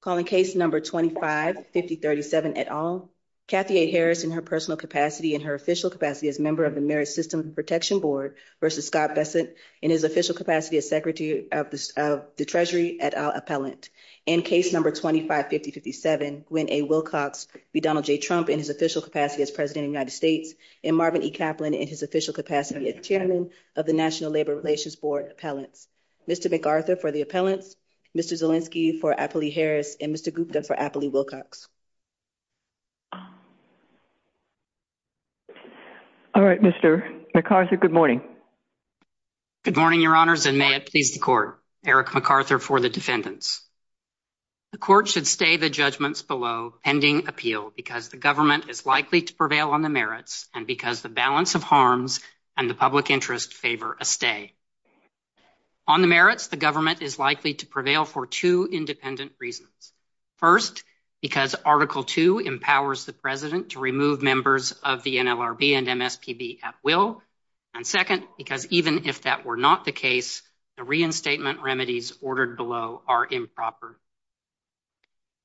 calling case number 255037 et al. Kathy A. Harris in her personal capacity and her official capacity as member of the Merit System Protection Board versus Scott Besant in his official capacity as Secretary of the Treasury et al. appellant. In case number 255057, Gwen A. Wilcox v. Donald J. Trump in his official capacity as President of the United States and Marvin E. Kaplan in his official capacity as Chairman of the National Labor Relations Board appellant. Mr. McArthur for the appellant, Mr. Zielinski for Apley Harris, and Mr. Gupta for Apley Wilcox. All right, Mr. McArthur, good morning. Good morning, your honors, and may it please the court. Eric McArthur for the defendants. The court should stay the judgments below pending appeal because the government is likely to prevail on the merits and because the balance of harms and the to prevail for two independent reasons. First, because Article II empowers the President to remove members of the NLRB and MSPB at will. And second, because even if that were not the case, the reinstatement remedies ordered below are improper.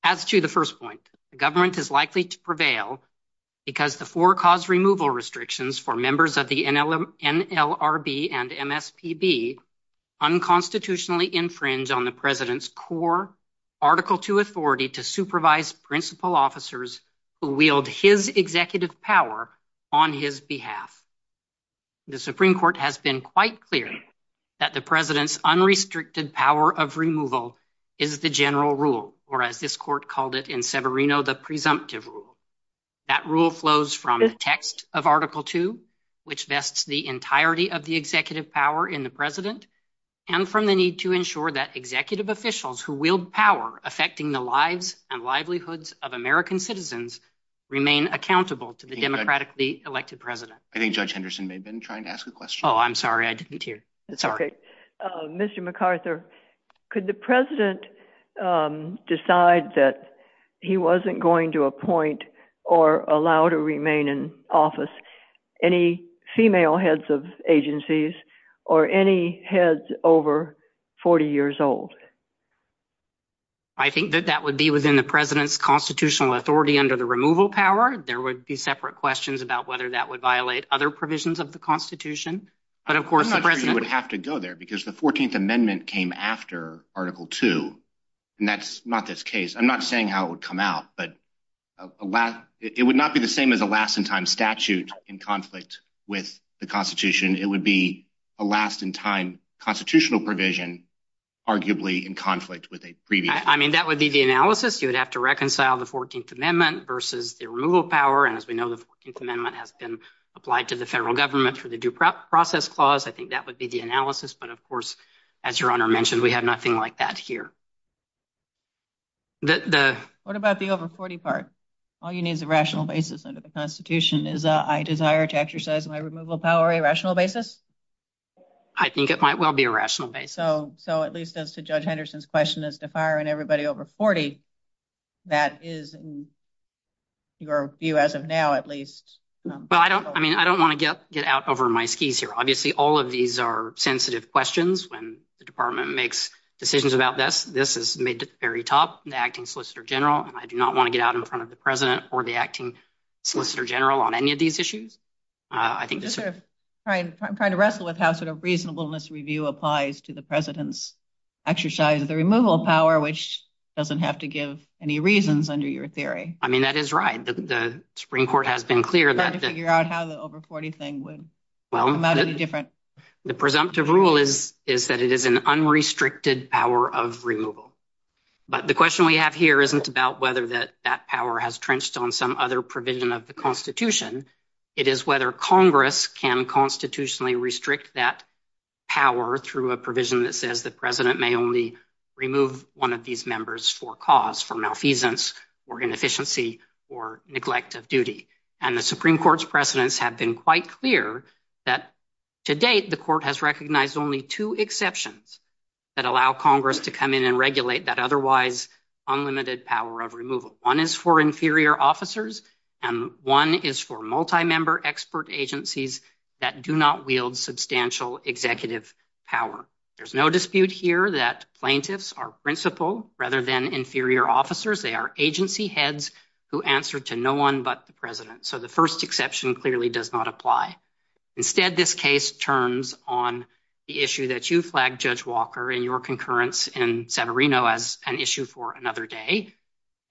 As to the first point, the government is likely to prevail because the four cause removal restrictions for members of the NLRB and MSPB unconstitutionally infringe on the President's core Article II authority to supervise principal officers who wield his executive power on his behalf. The Supreme Court has been quite clear that the President's unrestricted power of removal is the general rule, or as this court called it in Severino, the presumptive rule. That rule flows from the text of Article II, which vests the entirety of the executive power in the President, and from the need to ensure that executive officials who wield power affecting the lives and livelihoods of American citizens remain accountable to the democratically elected President. I think Judge Henderson may have been trying to ask a question. Oh, I'm sorry, I didn't hear. Sorry. Mr. McArthur, could the President decide that he wasn't going to appoint or allow to remain in office any female heads of agencies or any heads over 40 years old? I think that that would be within the President's constitutional authority under the removal power. There would be separate questions about whether that would violate other provisions of the Constitution. But of course, the President would have to go there because the 14th Amendment came after Article II, and that's not this case. I'm not saying how it would come out, but it would not be the same as a last-in-time statute in conflict with the Constitution. It would be a last-in-time constitutional provision, arguably, in conflict with a previous one. I mean, that would be the analysis. You would have to reconcile the 14th Amendment versus the removal power. And as we know, the 14th Amendment has been applied to the federal government for the Due Process Clause. I think that would be the analysis. But of course, as Your Honor mentioned, we have nothing like that here. What about the over 40 part? All you need is a rational basis under the Constitution. Is a desire to exercise my removal power a rational basis? I think it might well be a rational basis. So at least as to Judge Henderson's question as to firing everybody over 40, that is your view as of now at least. Well, I don't want to get out over my skis here. Obviously, all of these are sensitive questions when the Department makes decisions about this. This is made at the very top, the Acting Solicitor General. I do not want to get out in front of the President or the Acting Solicitor General on any of these issues. I'm trying to wrestle with how reasonableness review applies to the President's exercise of the removal power, which doesn't have to give any reasons under your theory. I mean, that is right. The Supreme Court has been clear that the presumptive rule is that it is an unrestricted power of removal. But the question we have here isn't about whether that that power has trenched on some other provision of the Constitution. It is whether Congress can constitutionally restrict that power through a provision that says the President may only remove one of these members for cause, for malfeasance or inefficiency or neglect of duty. And the Supreme Court's precedents have been quite clear that to date, the Court has recognized only two exceptions that allow Congress to come in and regulate that otherwise unlimited power of removal. One is for inferior officers and one is for multi-member expert agencies that do not wield substantial executive power. There's no dispute here that plaintiffs are principal rather than inferior officers. They are agency heads who answer to no one but the President. So the first exception clearly does not apply. Instead, this case turns on the issue that you flagged, Judge Walker, in your concurrence in San Marino as an issue for another day.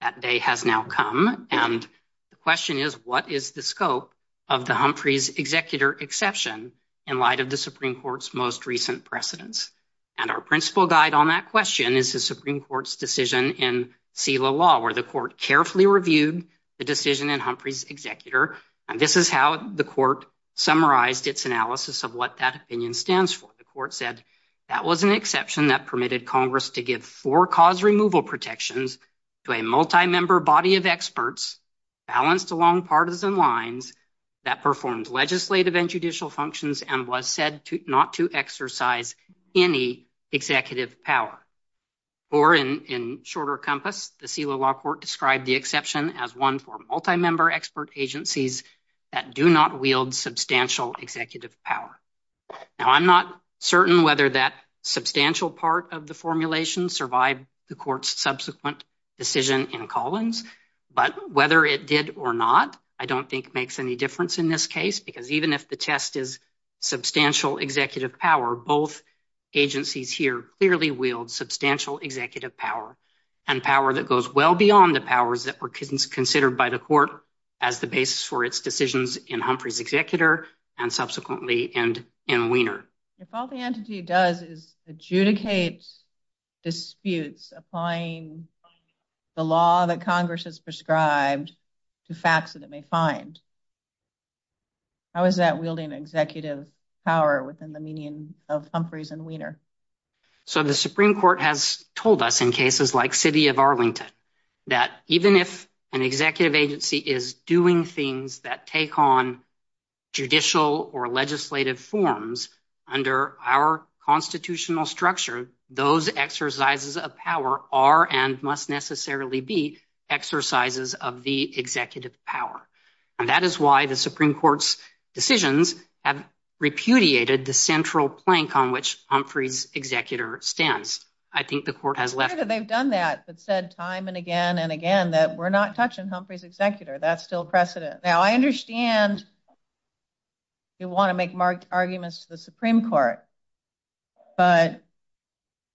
That day has now come. And the question is, what is the scope of the Humphrey's executor exception in light of the Supreme Court's most recent precedents? And our principal guide on that question is the Supreme Court's decision in Selah Law, where the Court carefully reviewed the decision in Humphrey's executor. And this is how the Court summarized its analysis of what that opinion stands for. The Court said that was an exception that permitted Congress to give four cause removal protections to a multi-member body of experts balanced along partisan lines that performs legislative and judicial functions and was said to not to exercise any executive power. Or in shorter compass, the Selah Law Court described the exception as one for multi-member expert agencies that do not wield substantial executive power. Now, I'm not certain whether that substantial part of the formulation survived the Court's subsequent decision in Collins, but whether it did or not, I don't think makes any difference in this case, because even if the test is substantial executive power, both agencies here clearly wield substantial executive power and power that goes well beyond the powers that were considered by the Court as the basis for its decisions in Humphrey's executor and subsequently in Weiner. If all the entity does is adjudicate disputes applying the law that Congress has prescribed to facts that it may find, how is that wielding executive power within the meaning of Humphrey's and Weiner? So the Supreme Court has told us in cases like City of Arlington that even if an executive agency is doing things that take on judicial or legislative forms under our constitutional structure, those exercises of power are and must necessarily be exercises of the executive power. And that is why the Supreme Court's decisions have repudiated the central plank on which Humphrey's executor stands. I think the Court has left... They've done that, but said time and again and again that we're not touching Humphrey's executor. That's still precedent. Now, I understand you want to make marked arguments to the Supreme Court, but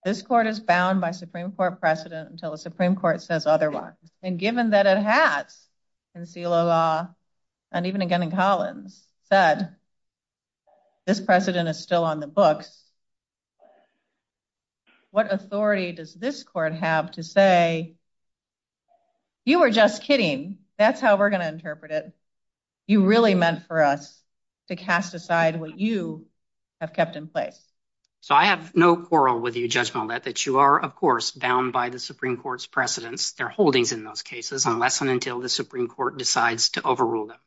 this Court is bound by Supreme Court precedent until the Supreme Court says otherwise. And given that it has in CELA law, and even again in Collins, said this precedent is still on the books, what authority does this Court have to say, you are just kidding. That's how we're going to interpret it. You really meant for us to cast aside what you have kept in place. So I have no quarrel with you, Judge Millett, that you are, of course, bound by the Supreme Court's precedents, their holdings in those cases, unless and until the Supreme Court decides to overrule them.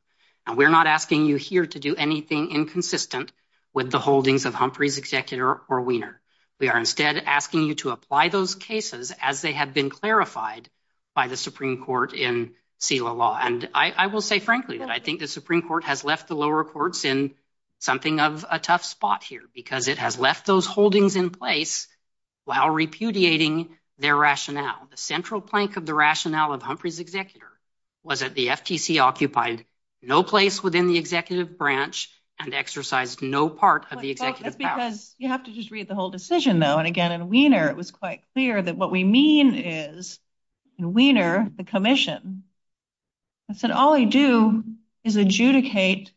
And we're not asking you here to do anything inconsistent with the holdings of Humphrey's executor or Weiner. We are instead asking you to apply those cases as they have been clarified by the Supreme Court in CELA law. And I will say, frankly, that I think the Supreme Court has left the lower courts in something of a tough spot here, because it has left those holdings in place while repudiating their rationale. The central plank of the rationale of Humphrey's executor was that the FTC occupied no place within the executive branch and exercised no part of the executive power. That's because you have to just read the whole decision, though. And again, in Weiner, it was quite clear that what we mean is, in Weiner, the commission said all we do is adjudicate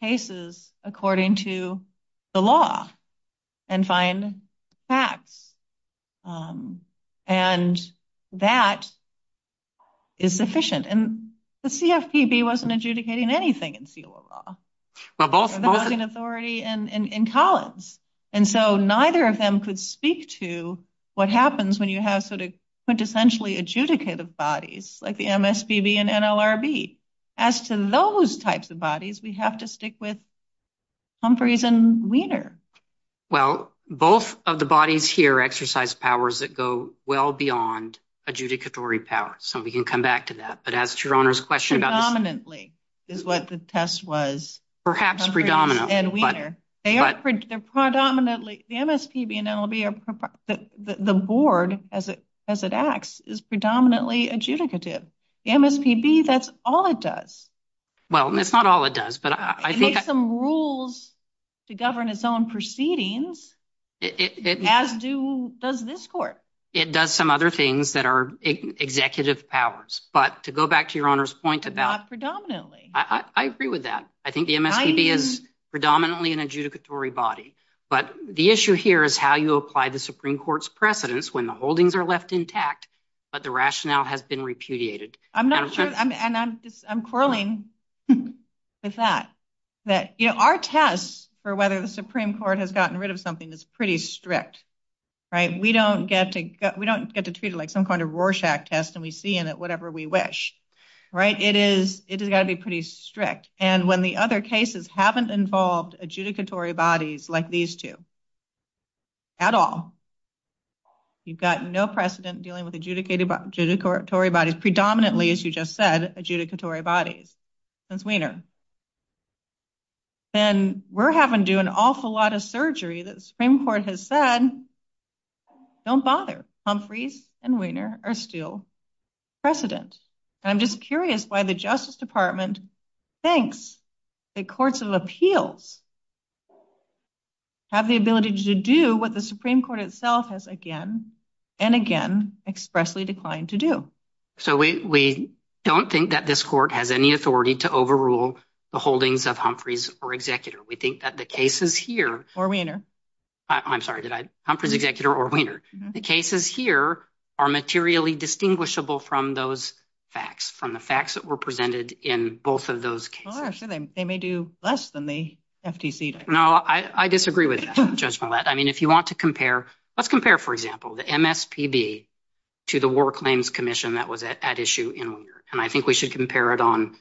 cases according to the law and find facts. And that is sufficient. And the CFPB wasn't adjudicating anything in CELA law. They were adjudicating authority in columns. And so neither of them could speak to what happens when you have sort of quintessentially adjudicated bodies, like the MSPB and NLRB. As to those types of bodies, we have to stick with Humphrey's and Weiner. Well, both of the bodies here exercise powers that go well beyond adjudicatory powers. So we can come back to that. But as to your Honor's question about... Predominantly is what the test was. Perhaps predominantly. And Weiner. The MSPB and NLRB, the board as it acts, is predominantly adjudicative. The MSPB, that's all it does. Well, it's not all it does. It makes some rules to govern its own proceedings, as does this court. It does some other things that are executive powers. But to go back to your Honor's point about... Not predominantly. I agree with that. I think the MSPB is predominantly an adjudicatory body. But the issue here is how you apply the Supreme Court's precedence when the holdings are left intact, but the rationale has been repudiated. I'm not sure. And I'm quarreling with that. Our test for whether the Supreme Court has gotten rid of something is pretty strict. We don't get to treat it like some kind of Rorschach test and we see in it whatever we wish. It has got to be pretty strict. And when the other cases haven't involved adjudicatory bodies like these two at all, you've got no precedent dealing with adjudicatory bodies, predominantly, as you just said, adjudicatory bodies since Weiner. And we're having to do an awful lot of surgery that the Supreme Court has said, don't bother. Humphreys and Weiner are still precedent. I'm just curious why the Justice Department thinks that courts of appeals have the ability to do what the Supreme Court itself has again and again expressly declined to do. So we don't think that this court has any authority to overrule the holdings of Humphreys or Weiner. The cases here are materially distinguishable from those facts, from the facts that were presented in both of those cases. Well, I'm sure they may do less than the FTC does. No, I disagree with that, Judge Millett. I mean, if you want to compare, let's compare, for example, the MSPB to the War Claims Commission that was at issue in Weiner. And I think we should compare it on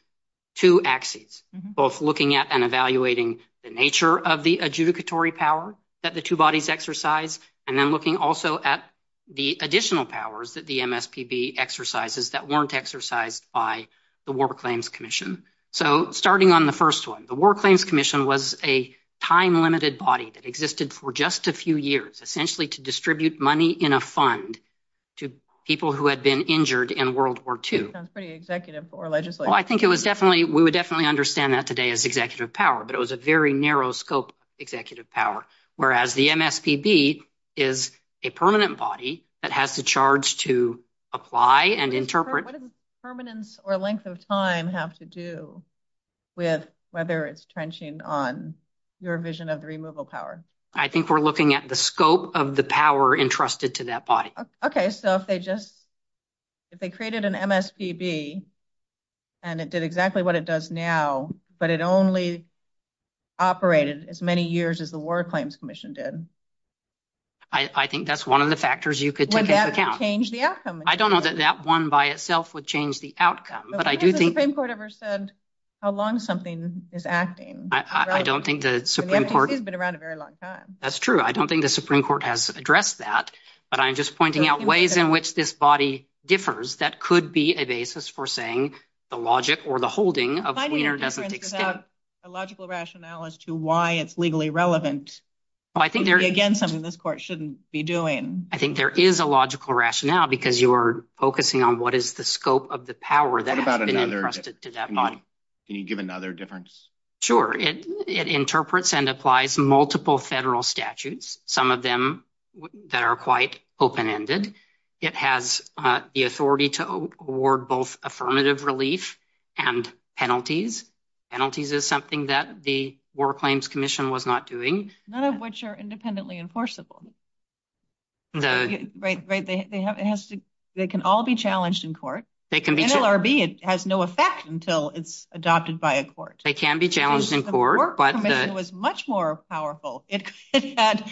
two axes, both looking at and evaluating the nature of the adjudicatory power that the two bodies exercise, and then looking also at the additional powers that the MSPB exercises that weren't exercised by the War Claims Commission. So starting on the first one, the War Claims Commission was a time-limited body that existed for just a few years, essentially to distribute money in a fund to people who had been injured in World War II. That sounds pretty executive or legislative. Well, I think it was definitely, we would definitely understand that today as executive power, but it was a very narrow scope executive power, whereas the MSPB is a permanent body that has the charge to apply and interpret. But what does permanence or length of time have to do with whether it's trenching on your vision of removal power? I think we're looking at the scope of the power entrusted to that body. Okay. So if they just, if they created an MSPB and it did exactly what it does now, but it only operated as many years as the War Claims Commission did. I think that's one of the factors you could take into account. Would that change the outcome? I don't know that that one by itself would change the outcome, but I do think- Has the Supreme Court ever said how long something is acting? I don't think the Supreme Court- It's been around a very long time. That's true. I don't think the Supreme Court has addressed that, but I'm just pointing out ways in which this body differs. That could be a basis for saying the logic or the holding of a cleaner definite extent. I'm finding a difference without a logical rationale as to why it's legally relevant. I think there- Again, something this court shouldn't be doing. I think there is a logical rationale because you are focusing on what is the scope of the power that has been entrusted to that body. Can you give another difference? Sure. It interprets and applies multiple federal statutes, some of them that are quite open-ended. It has the authority to award both affirmative relief and penalties. Penalties is something that War Claims Commission was not doing. None of which are independently enforceable. They can all be challenged in court. NLRB has no effect until it's adopted by a court. They can be challenged in court, but- The War Commission was much more powerful. It had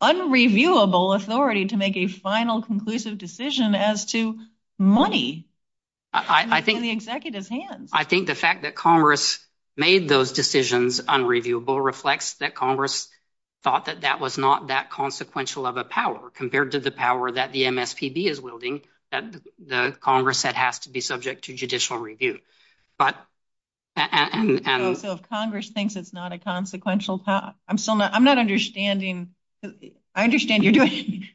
unreviewable authority to make a final, conclusive decision as to money in the executive's hands. The fact that Congress made those decisions unreviewable reflects that Congress thought that that was not that consequential of a power compared to the power that the MSPB is wielding that the Congress said has to be subject to judicial review. Congress thinks it's not a consequential power. I'm still not- I'm not understanding. I understand you're doing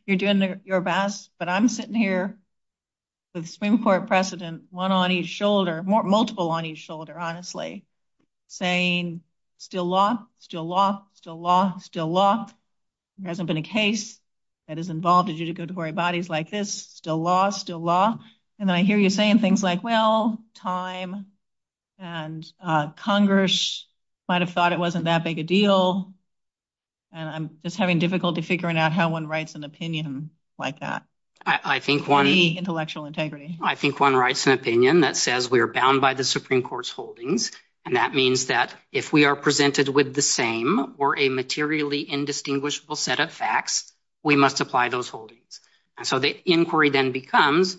your best, but I'm sitting here with Supreme Court precedent, one on each shoulder, multiple on each shoulder, honestly, saying, still lock, still lock, still lock, still lock. There hasn't been a case that has involved a judicatory bodies like this. Still lock, still lock. And I hear you saying things like, well, time and Congress might have thought it wasn't that big a deal. And I'm just having difficulty figuring out how one writes an opinion like that. I think one- Free intellectual integrity. I think one writes an opinion that says we are bound by the Supreme Court's holdings. And that means that if we are presented with the same or a materially indistinguishable set of facts, we must apply those holdings. And so the inquiry then becomes,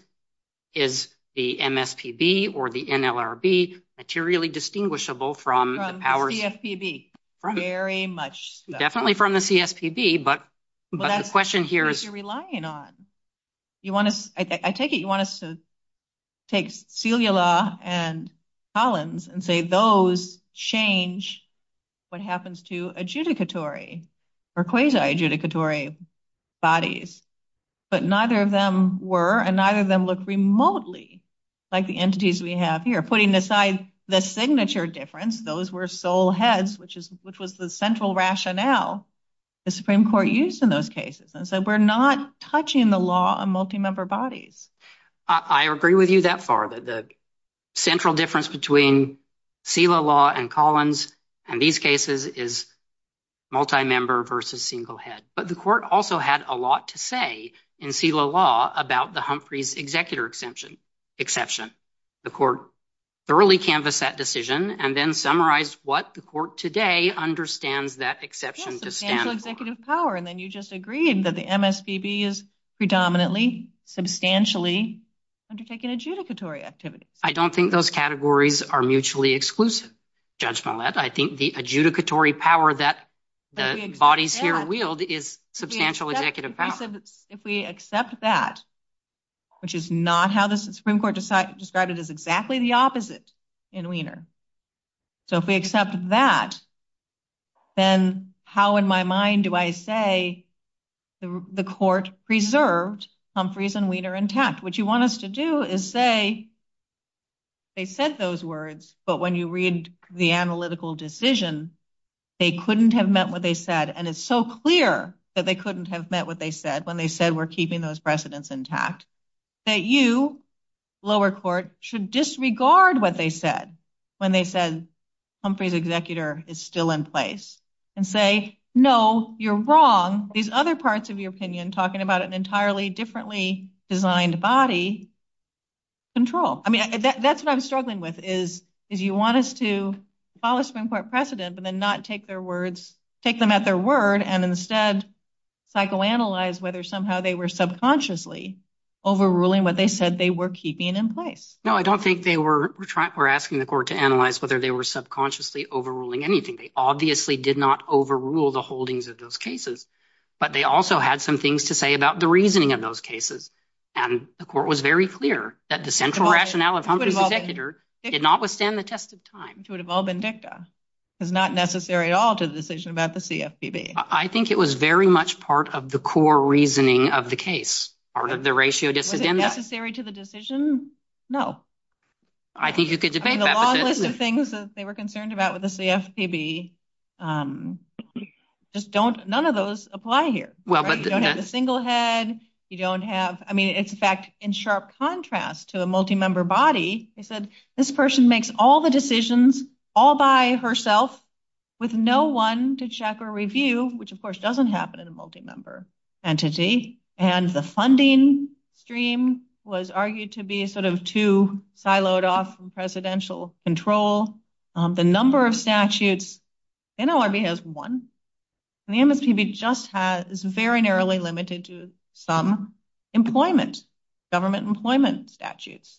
is the MSPB or the NLRB materially distinguishable from the power- From the CFPB. Very much so. Definitely from the CFPB, but the question here is- But that's what you're relying on. You want us, I take it you want us to take Celia Law and Collins and say those change what happens to adjudicatory or quasi-adjudicatory bodies. But neither of them were, and neither of them look remotely like the entities we have here. Putting aside the signature difference, those were sole heads, which was the central rationale the Supreme Court used in those cases. We're not touching the law on multi-member bodies. I agree with you that far, that the central difference between Celia Law and Collins in these cases is multi-member versus single head. But the court also had a lot to say in Celia Law about the Humphreys executor exception. The court thoroughly canvassed that decision and then summarized what the court today understands that exception to stand for. And then you just agreed that the MSPB is predominantly, substantially undertaking adjudicatory activity. I don't think those categories are mutually exclusive, Judge Millett. I think the adjudicatory power that the bodies here wield is substantial executive power. If we accept that, which is not how the Supreme Court described it as exactly the opposite in Wiener. So if we accept that, then how in my mind do I say the court preserved Humphreys and Wiener intact? What you want us to do is say they said those words, but when you read the analytical decision, they couldn't have meant what they said. And it's so clear that they couldn't have meant what they said when they said, we're keeping those precedents intact. That you, lower court, should disregard what they said when they said Humphreys executor is still in place and say, no, you're wrong. These other parts of your opinion talking about an entirely differently designed body control. I mean, that's what I'm struggling with is you want us to follow Supreme Court precedent, but then not take their words, take them at their word and instead psychoanalyze whether somehow they were subconsciously overruling what they said they were keeping in place. No, I don't think they were asking the court to analyze whether they were subconsciously overruling anything. They obviously did not overrule the holdings of those cases, but they also had some things to say about the reasoning of those cases. And the court was very clear that the central rationale of Humphreys executor did not withstand the test of time. It would have all been dicta. It's not necessary at all to the decision about the CFPB. I think it was very much part of the core reasoning of the case, part of the ratio. Is it necessary to the decision? No, I think you could debate that. A lot of the things that they were concerned about with the CFPB, just don't, none of those apply here. Well, you don't have a single head. You don't have, I mean, it's a fact in sharp contrast to a multi-member body. They said this person makes all the decisions all by herself with no one to check or review which of course doesn't happen in a multi-member entity. And the funding stream was argued to be sort of too siloed off from presidential control. The number of statutes, NLRB has one, and the MFPB just has very narrowly limited to some employment, government employment statutes.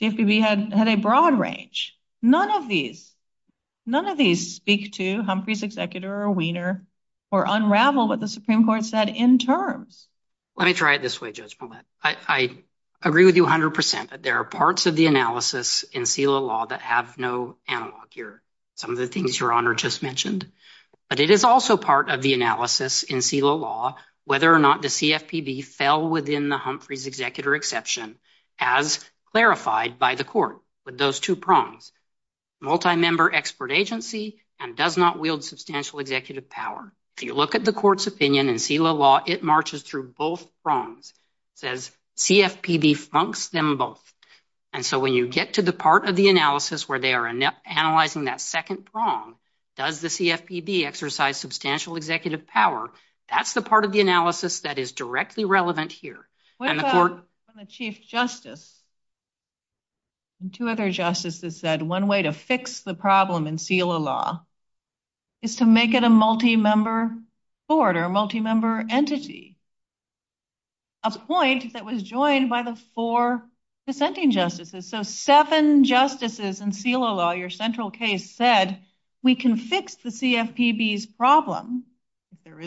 CFPB had a broad range. None of these, none of these speak to Humphrey's executor or Weiner or unravel what the Supreme Court said in terms. Let me try it this way, Judge Millett. I agree with you a hundred percent that there are parts of the analysis in SILA law that have no analog here. Some of the things Your Honor just mentioned, but it is also part of the analysis in SILA law, whether or not the CFPB fell within the Humphrey's executor exception as clarified by the court with those two prongs, multi-member expert agency and does not wield substantial executive power. If you look at the court's opinion in SILA law, it marches through both prongs, says CFPB flunks them both. And so when you get to the part of the analysis where they are analyzing that second prong, does the CFPB exercise substantial executive power? That's the part of the analysis that is directly relevant here. What about when the Chief Justice and two other justices said one way to fix the problem in SILA law is to make it a multi-member board or multi-member entity, a point that was joined by the four dissenting justices. So seven justices in SILA law, your central case said we can fix the CFPB's problem, if I think that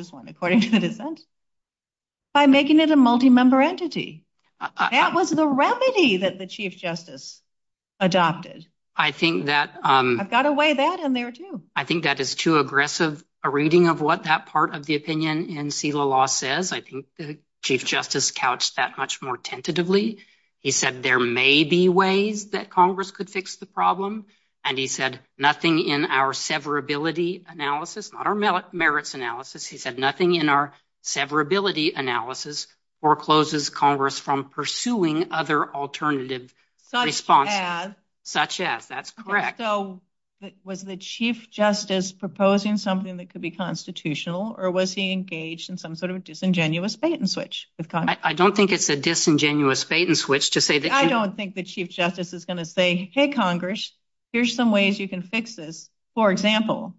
is too aggressive. A reading of what that part of the opinion in SILA law says. I think the Chief Justice couched that much more tentatively. He said there may be ways that Congress could fix the problem. And he said nothing in our severability analysis, not our merits analysis. He said nothing in our severability analysis forecloses Congress from pursuing other alternative response. Such as? Such as. That's correct. So was the Chief Justice proposing something that could be constitutional or was he engaged in some sort of disingenuous bait and switch? I don't think it's a disingenuous bait and switch. I don't think the Chief Justice is going to say, hey, Congress, here's some ways you can fix this. For example,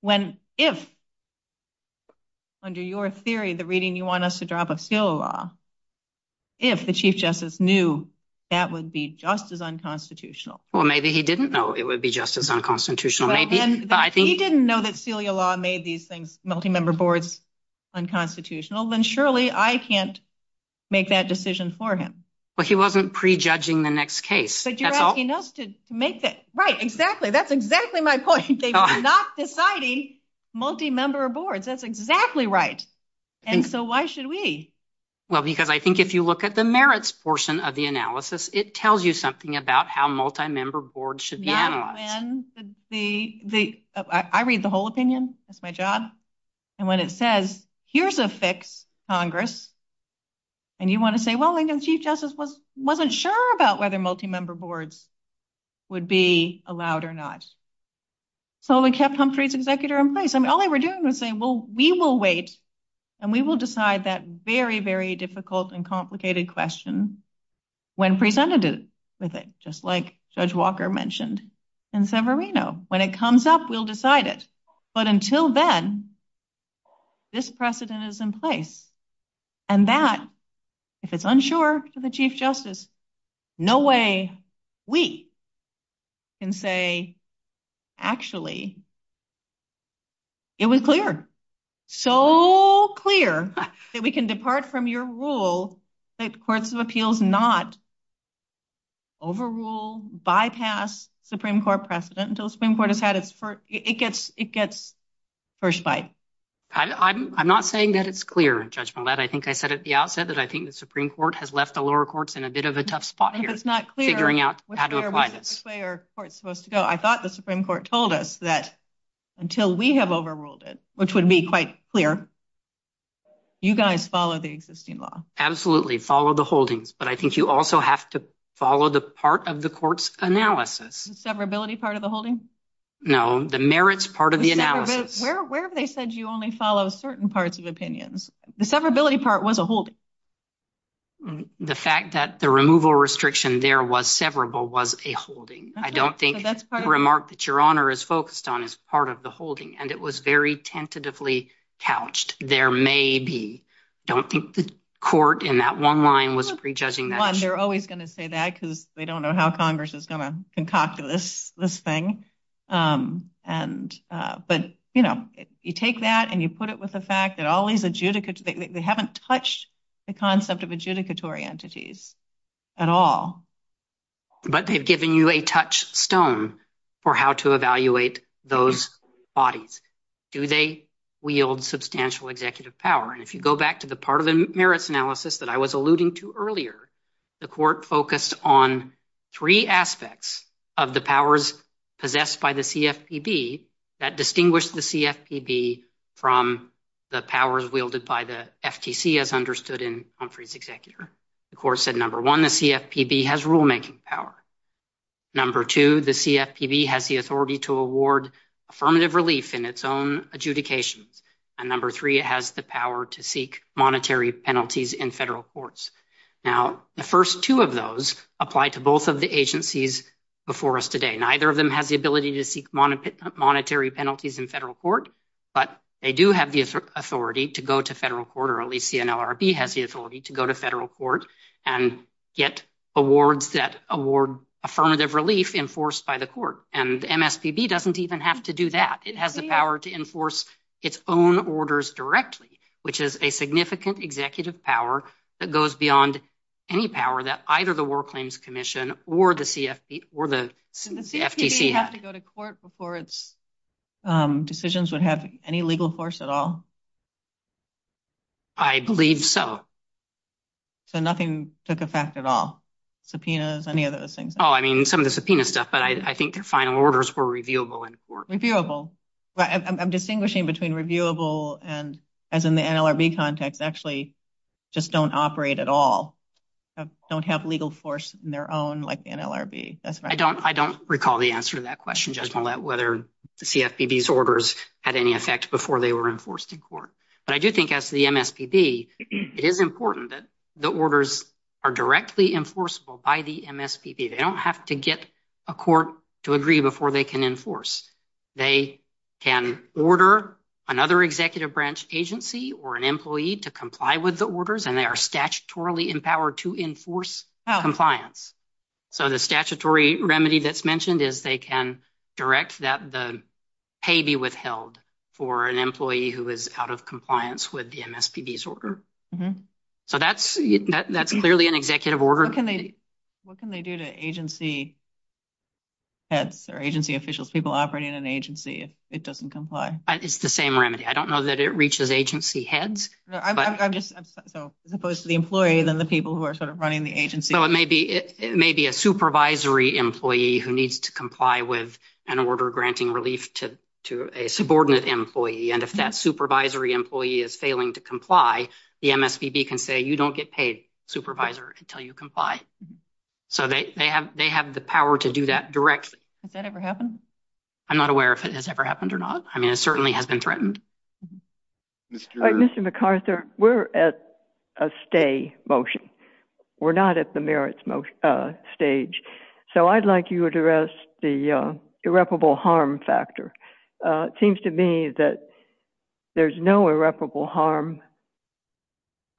when, if, under your theory, the reading you want us to drop of SILA law, if the Chief Justice knew that would be just as unconstitutional. Well, maybe he didn't know it would be just as unconstitutional. But if he didn't know that SILA law made these things, multi-member boards, unconstitutional, then surely I can't make that decision for him. But he wasn't prejudging the next case. You're asking us to make that. Right. Exactly. That's exactly my point. He's not deciding multi-member boards. That's exactly right. And so why should we? Well, because I think if you look at the merits portion of the analysis, it tells you something about how multi-member boards should be analyzed. Yeah. I read the whole opinion. That's my job. And when it says, here's a fix, Congress, and you want to say, well, I know the Chief Justice wasn't sure about whether multi-member boards would be allowed or not. So we kept Humphrey's executor in place. I mean, all they were doing was saying, well, we will wait and we will decide that very, very difficult and complicated question when presented with it, just like Judge Walker mentioned in San Marino. When it comes up, we'll decide it. But until then, this precedent is in place. And that, if it's unsure for the Chief Justice, no way we can say, actually, it was clear. So clear that we can depart from your rule that courts of appeals not overrule, bypass Supreme Court precedent until the Supreme Court has had its first, it gets, it gets first bite. I'm not saying that it's clear. I think I said at the outset that I think the Supreme Court has left the lower courts in a bit of a tough spot here, figuring out how to apply this. Which way are courts supposed to go? I thought the Supreme Court told us that until we have overruled it, which would be quite clear, you guys follow the existing law. Absolutely. Follow the holdings. But I think you also have to follow the part of the court's analysis. The severability part of the holding? No, the merits part of the analysis. Where have they said you only follow certain parts of opinions? The severability part was a holding. The fact that the removal restriction there was severable was a holding. I don't think the remark that your Honor is focused on is part of the holding. And it was very tentatively couched. There may be. I don't think the court in that one line was prejudging that. They're always going to say that because they don't know how Congress is going to concoct this thing. But, you know, you take that and you put it with the fact that all these adjudicators, they haven't touched the concept of adjudicatory entities at all. But they've given you a touchstone for how to evaluate those bodies. Do they wield substantial executive power? And if you go back to the part of the merits analysis that I was alluding to earlier, the aspects of the powers possessed by the CFPB that distinguish the CFPB from the powers wielded by the FTC as understood in Humphrey's executor. The court said, number one, the CFPB has rulemaking power. Number two, the CFPB has the authority to award affirmative relief in its own adjudication. And number three, it has the power to seek monetary penalties in federal courts. Now, the first two of those apply to both of the agencies before us today. Neither of them have the ability to seek monetary penalties in federal court, but they do have the authority to go to federal court, or at least the NLRB has the authority to go to federal court and get awards that award affirmative relief enforced by the court. And the MSPB doesn't even have to do that. It has the power to enforce its own orders directly, which is a significant executive power that goes beyond any power that either the War Claims Commission or the CFPB or the FTC has. So the CFPB didn't have to go to court before its decisions would have any legal force at all? I believe so. So nothing took effect at all? Subpoenas, any of those things? Oh, I mean, some of the subpoena stuff, but I think their final orders were reviewable in court. Reviewable. I'm distinguishing between reviewable and, as in the NLRB context, actually just don't operate at all. Don't have legal force in their own, like the NLRB. That's right. I don't recall the answer to that question, Judge Millett, whether the CFPB's orders had any effect before they were enforced in court. But I do think as the MSPB, it is important that the orders are directly enforceable by the MSPB. They don't have to get a court to agree before they can enforce. They can order another executive branch agency or an employee to comply with the orders, and they are statutorily empowered to enforce compliance. So the statutory remedy that's mentioned is they can direct that the pay be withheld for an employee who is out of compliance with the MSPB's order. So that's clearly an executive order. What can they do to agency heads or agency officials, people operating in the agency if it doesn't comply? It's the same remedy. I don't know that it reaches agency heads. I'm just, as opposed to the employee, then the people who are running the agency. So it may be a supervisory employee who needs to comply with an order granting relief to a subordinate employee. And if that supervisory employee is failing to comply, the MSPB can say, you don't get a supervisor until you comply. So they have the power to do that directly. Has that ever happened? I'm not aware if it has ever happened or not. I mean, it certainly has been threatened. Mr. McArthur, we're at a stay motion. We're not at the merits stage. So I'd like you to address the irreparable harm factor. It seems to me that there's no irreparable harm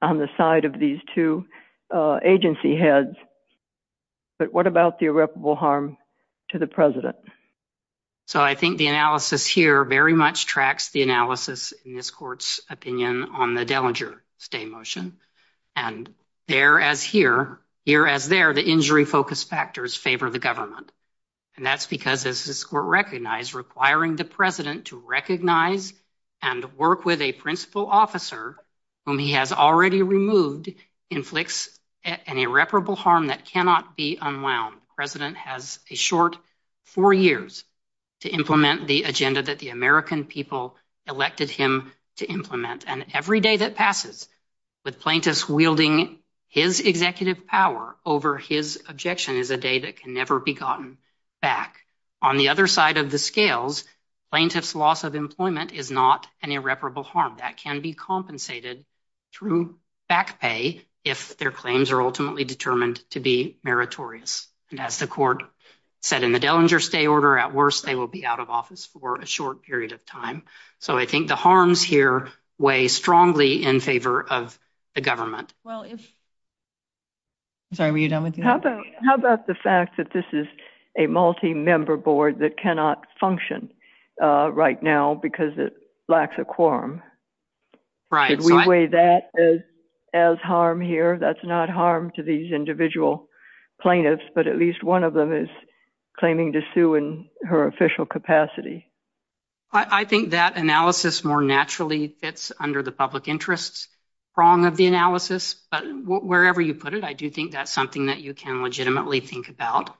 on the side of these two agency heads. But what about the irreparable harm to the president? So I think the analysis here very much tracks the analysis in this court's opinion on the Dellinger stay motion. And there as here, here as there, the injury focus factors favor the government. And that's because, as this court recognized, requiring the president to recognize and work with a principal officer whom he has already removed inflicts an irreparable harm that cannot be unwound. President has a short four years to implement the agenda that the American people elected him to implement. And every day that passes with plaintiffs wielding his executive power over his objection is a day that can never be gotten back. On the other side of the scales, plaintiff's loss of employment is not an irreparable harm that can be compensated through back pay if their claims are ultimately determined to be meritorious. And as the court said in the Dellinger stay order, at worst, they will be out of office for a short period of time. So I think the harms here weigh strongly in favor of the government. Well, sorry, were you done with that? How about the fact that this is a multi-member board that cannot function right now because it lacks a quorum? Right. Should we weigh that as harm here? That's not harm to these individual plaintiffs, but at least one of them is claiming to sue in her official capacity. I think that analysis more naturally fits under the public interest prong of the analysis. Wherever you put it, I do think that's something that you can legitimately think about.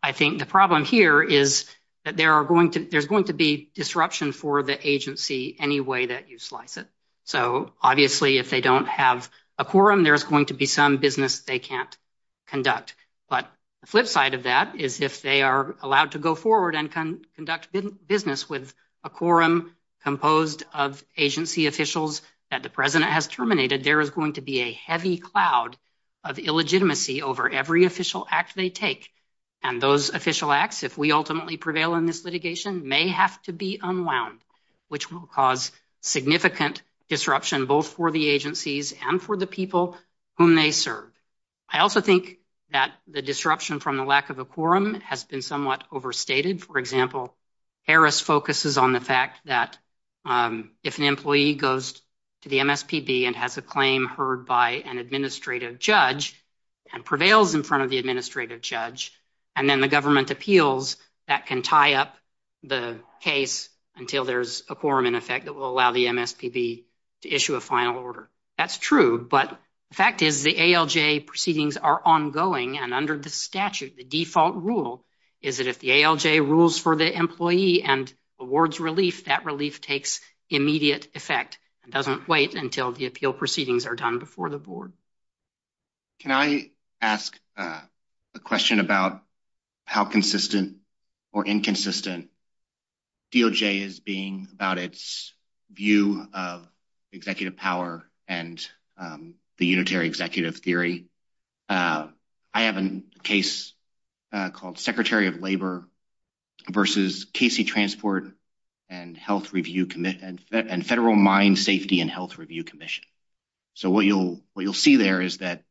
I think the problem here is that there's going to be disruption for the agency any way that you slice it. So obviously, if they don't have a quorum, there's going to be some business they can't But the flip side of that is if they are allowed to go forward and conduct business with a quorum composed of agency officials that the president has terminated, there is going to be a heavy cloud of illegitimacy over every official act they take. And those official acts, if we ultimately prevail in this litigation, may have to be unwound, which will cause significant disruption both for the agencies and for the people whom they serve. I also think that the disruption from the lack of a quorum has been somewhat overstated. For example, Harris focuses on the fact that if an employee goes to the MSPB and has a heard by an administrative judge and prevails in front of the administrative judge, and then the government appeals, that can tie up the case until there's a quorum in effect that will allow the MSPB to issue a final order. That's true, but the fact is the ALJ proceedings are ongoing, and under the statute, the default rule is that if the ALJ rules for the employee and awards relief, that relief takes immediate effect and doesn't wait until the appeal proceedings are done before the board. Can I ask a question about how consistent or inconsistent DOJ is being about its view of executive power and the unitary executive theory? I have a case called Secretary of Labor versus KC Transport and Health Review and Federal Mine Safety and Health Review Commission. So what you'll see there is that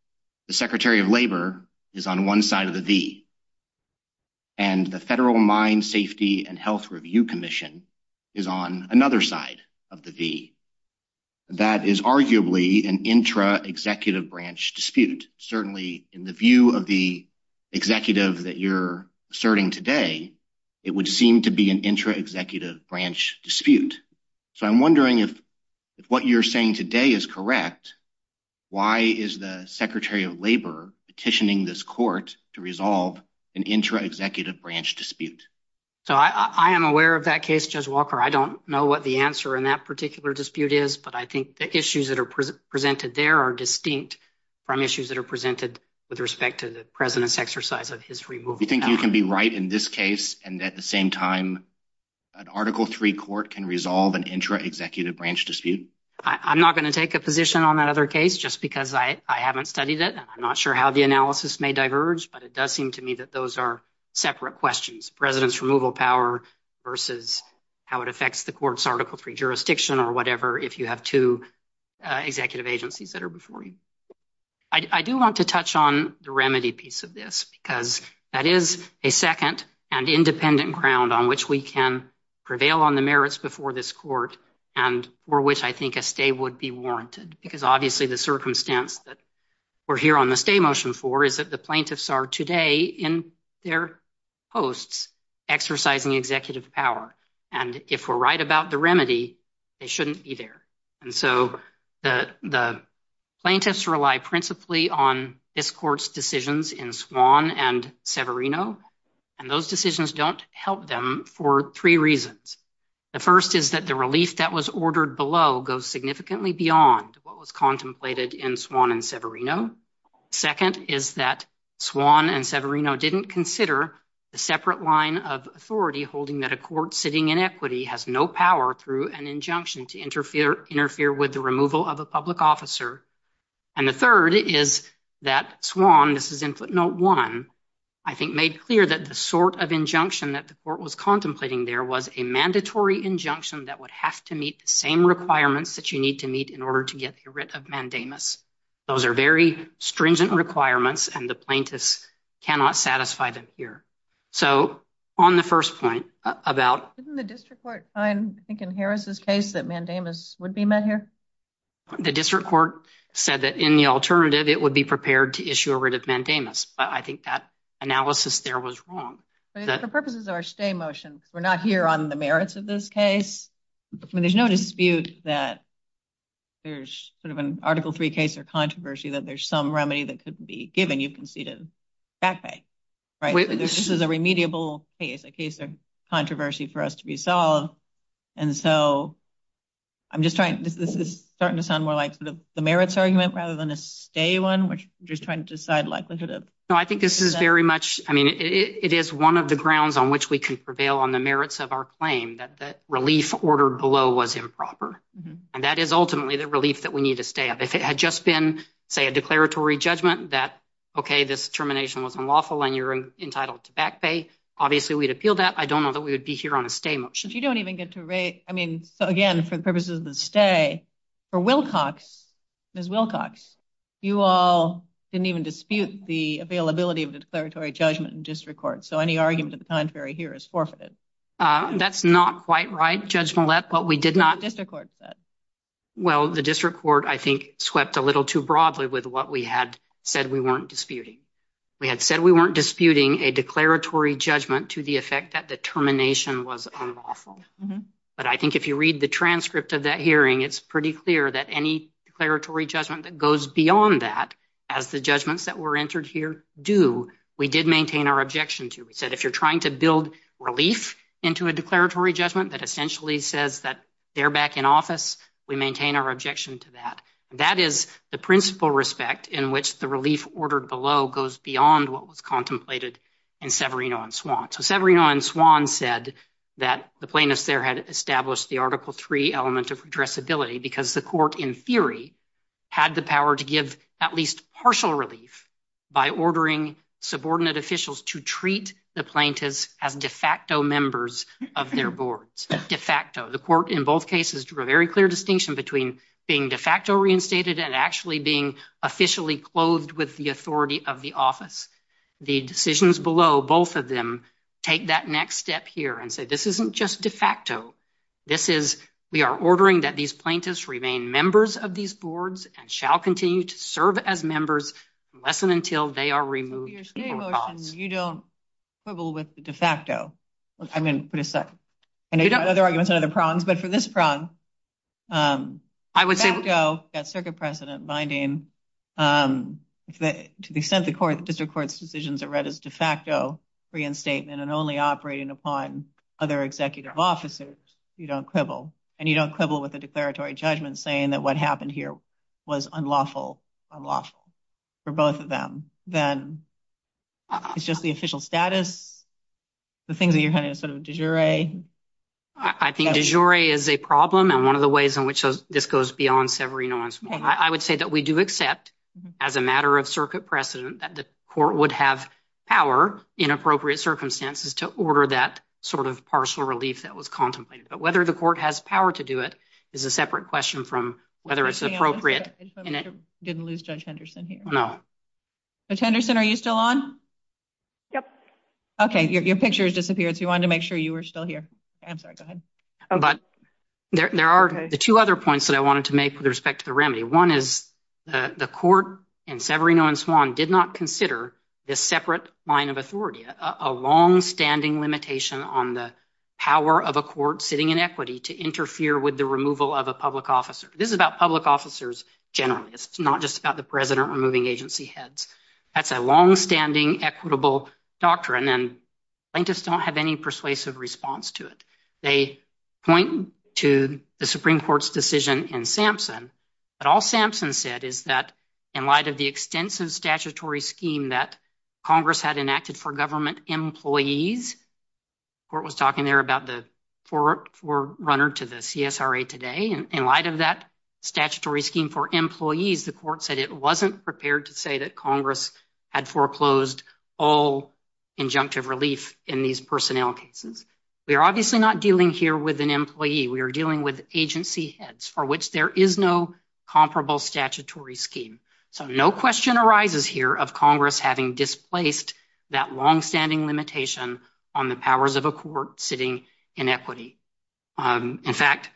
the Secretary of Labor is on one side of the V, and the Federal Mine Safety and Health Review Commission is on another side of the V. That is arguably an intra-executive branch dispute. Certainly, in the view of the executive that you're asserting today, it would seem to be an intra-executive branch dispute. So I'm wondering if what you're saying today is correct, why is the Secretary of Labor petitioning this court to resolve an intra-executive branch dispute? So I am aware of that case, Judge Walker. I don't know what the answer in that particular dispute is, but I think the issues that are presented there are distinct from issues that are presented with respect to the president's exercise of his free will. Do you think you can be right in this case and at the same time an Article III court can resolve an intra-executive branch dispute? I'm not going to take a position on that other case just because I haven't studied it. I'm not sure how the analysis may diverge, but it does seem to me that those are separate questions. President's removal power versus how it affects the court's Article III jurisdiction or whatever if you have two executive agencies that are before you. I do want to touch on the remedy piece of this because that is a second and independent ground on which we can prevail on the merits before this court and for which I think a stay would be warranted. Because obviously the circumstance that we're here on the stay motion for is that the plaintiffs are today in their posts exercising executive power. And if we're right about the remedy, they shouldn't be there. And so the plaintiffs rely principally on this court's decisions in Swann and Severino. And those decisions don't help them for three reasons. The first is that the release that was ordered below goes significantly beyond what was contemplated in Swann and Severino. Second is that Swann and Severino didn't consider a separate line of authority holding that court sitting in equity has no power through an injunction to interfere with the removal of a public officer. And the third is that Swann, this is input note one, I think made clear that the sort of injunction that the court was contemplating there was a mandatory injunction that would have to meet the same requirements that you need to meet in order to get rid of mandamus. Those are very stringent requirements and the plaintiffs cannot satisfy them here. So on the first point about... Isn't the district court fine, I think in Harris's case that mandamus would be met here? The district court said that in the alternative, it would be prepared to issue a writ of mandamus. But I think that analysis there was wrong. But for purposes of our stay motion, we're not here on the merits of this case. There's no dispute that there's sort of an article three case or controversy that there's some remedy that could be given. You can see the back pay, right? This is a remediable case, a case of controversy for us to be solved. And so I'm just trying... This is starting to sound more like the merits argument rather than a stay one, which I'm just trying to decide... No, I think this is very much... I mean, it is one of the grounds on which we can prevail on the merits of our claim that that relief ordered below was improper. And that is ultimately the relief that we need to stay up. If it had just been, say, a declaratory judgment that, okay, this termination was unlawful and you're entitled to back pay, obviously we'd appeal that. I don't know that we would be here on a stay motion. But you don't even get to rate... I mean, again, for the purposes of the stay, for Wilcox, Ms. Wilcox, you all didn't even dispute the availability of the declaratory judgment in district court. So any argument of the contrary here is forfeited. That's not quite right, Judge Millett, but we did not... What the district court said. Well, the district court, I think, swept a little too broadly with what we had said we weren't disputing. We had said we weren't disputing a declaratory judgment to the effect that the termination was unlawful. But I think if you read the transcript of that hearing, it's pretty clear that any declaratory judgment that goes beyond that, as the judgments that were entered here do, we did maintain our objection to. We said, if you're trying to build relief into a declaratory judgment that essentially says that they're back in office, we maintain our objection to that. That is the principal respect in which the relief ordered below goes beyond what was contemplated in Severino and Swan. So Severino and Swan said that the plaintiffs there had established the Article III element of addressability because the court, in theory, had the power to give at least partial relief by ordering subordinate officials to treat the plaintiffs as de facto members of their board. De facto. The court in both cases drew a very clear distinction between being de facto reinstated and actually being officially clothed with the authority of the office. The decisions below, both of them take that next step here and say, this isn't just de This is, we are ordering that these plaintiffs remain members of these boards and shall continue to serve as members unless and until they are removed from office. You don't quibble with the de facto. I'm going to put a second. For this prong, de facto, that circuit precedent binding, to the extent the district court's decisions are read as de facto reinstatement and only operating upon other executive officers, you don't quibble. And you don't quibble with the declaratory judgment saying that what happened here was unlawful for both of them. Then it's just the official status. The thing that you're having is sort of de jure. I think de jure is a problem and one of the ways in which this goes beyond severing nuance. I would say that we do accept as a matter of circuit precedent that the court would have power in appropriate circumstances to order that sort of partial relief that was contemplated. But whether the court has power to do it is a separate question from whether it's appropriate. Didn't lose Judge Henderson here. Judge Henderson, are you still on? Yep. Okay, your picture has disappeared. So we wanted to make sure you were still here. I'm sorry, go ahead. But there are the two other points that I wanted to make with respect to the remedy. One is the court in Severino and Swan did not consider this separate line of authority, a longstanding limitation on the power of a court sitting in equity to interfere with the removal of a public officer. This is about public officers generally. It's not just about the president removing agency heads. That's a longstanding equitable doctrine and plaintiffs don't have any persuasive response to it. They point to the Supreme Court's decision in Sampson. But all Sampson said is that in light of the extensive statutory scheme that Congress had enacted for government employees, the court was talking there about the forerunner to the CSRA today, and in light of that statutory scheme for employees, the court said it wasn't prepared to say that Congress had foreclosed all injunctive relief in these personnel cases. We're obviously not dealing here with an employee. We are dealing with agency heads for which there is no comparable statutory scheme. So no question arises here of Congress having displaced that longstanding limitation on the powers of a court sitting in equity. In fact,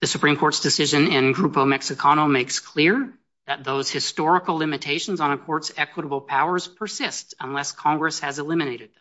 the Supreme Court's decision in Grupo Mexicano makes clear that those historical limitations on a court's equitable powers persist unless Congress has eliminated them.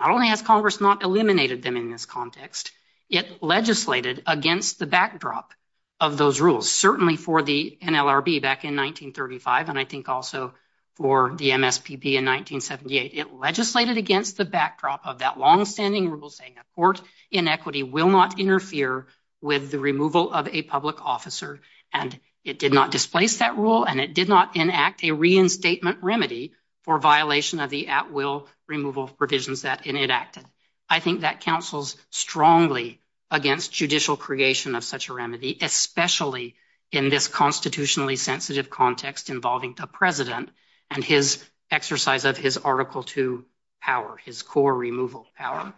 Not only has Congress not eliminated them in this context, it legislated against the backdrop of those rules, certainly for the NLRB back in 1935, and I think also for the MSPP in 1978. It legislated against the backdrop of that longstanding rule saying a court in equity will not interfere with the removal of a public officer, and it did not displace that rule and it did not enact a reinstatement remedy for violation of the at-will removal provisions that it enacted. I think that counsels strongly against judicial creation of such a remedy, especially in this constitutionally sensitive context involving a president and his exercise of his Article II power, his core removal power.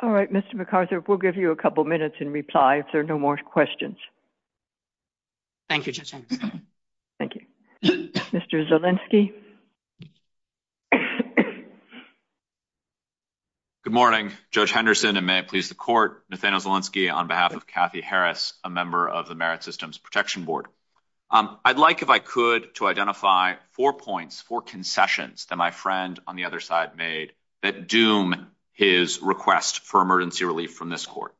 All right, Mr. McArthur, we'll give you a couple minutes in reply if there are no more questions. Thank you, Judge Henderson. Thank you. Mr. Zielinski. Good morning, Judge Henderson, and may it please the Court, Nathaniel Zielinski on behalf of Kathy Harris, a member of the Merit Systems Protection Board. I'd like, if I could, to identify four points, four concessions that my friend on the other side made that doom his request for emergency relief from this court.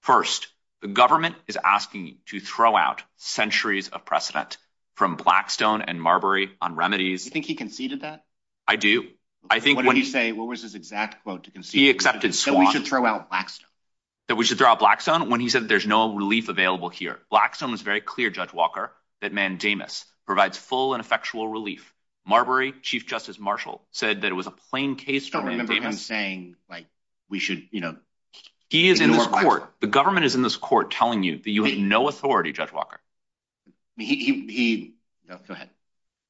First, the government is asking to throw out centuries of precedent from Blackstone and Marbury on remedies. Do you think he conceded that? I do. I think when he's saying, what was his exact quote to concede? He accepted swans. That we should throw out Blackstone. That we should throw out Blackstone when he said there's no relief available here. Blackstone was very clear, Judge Walker, that mandamus provides full and effectual relief. Marbury, Chief Justice Marshall, said that it was a plain case. I don't remember him saying, like, we should, you know. He is in this court. The government is in this court telling you that you have no authority, Judge Walker. Go ahead.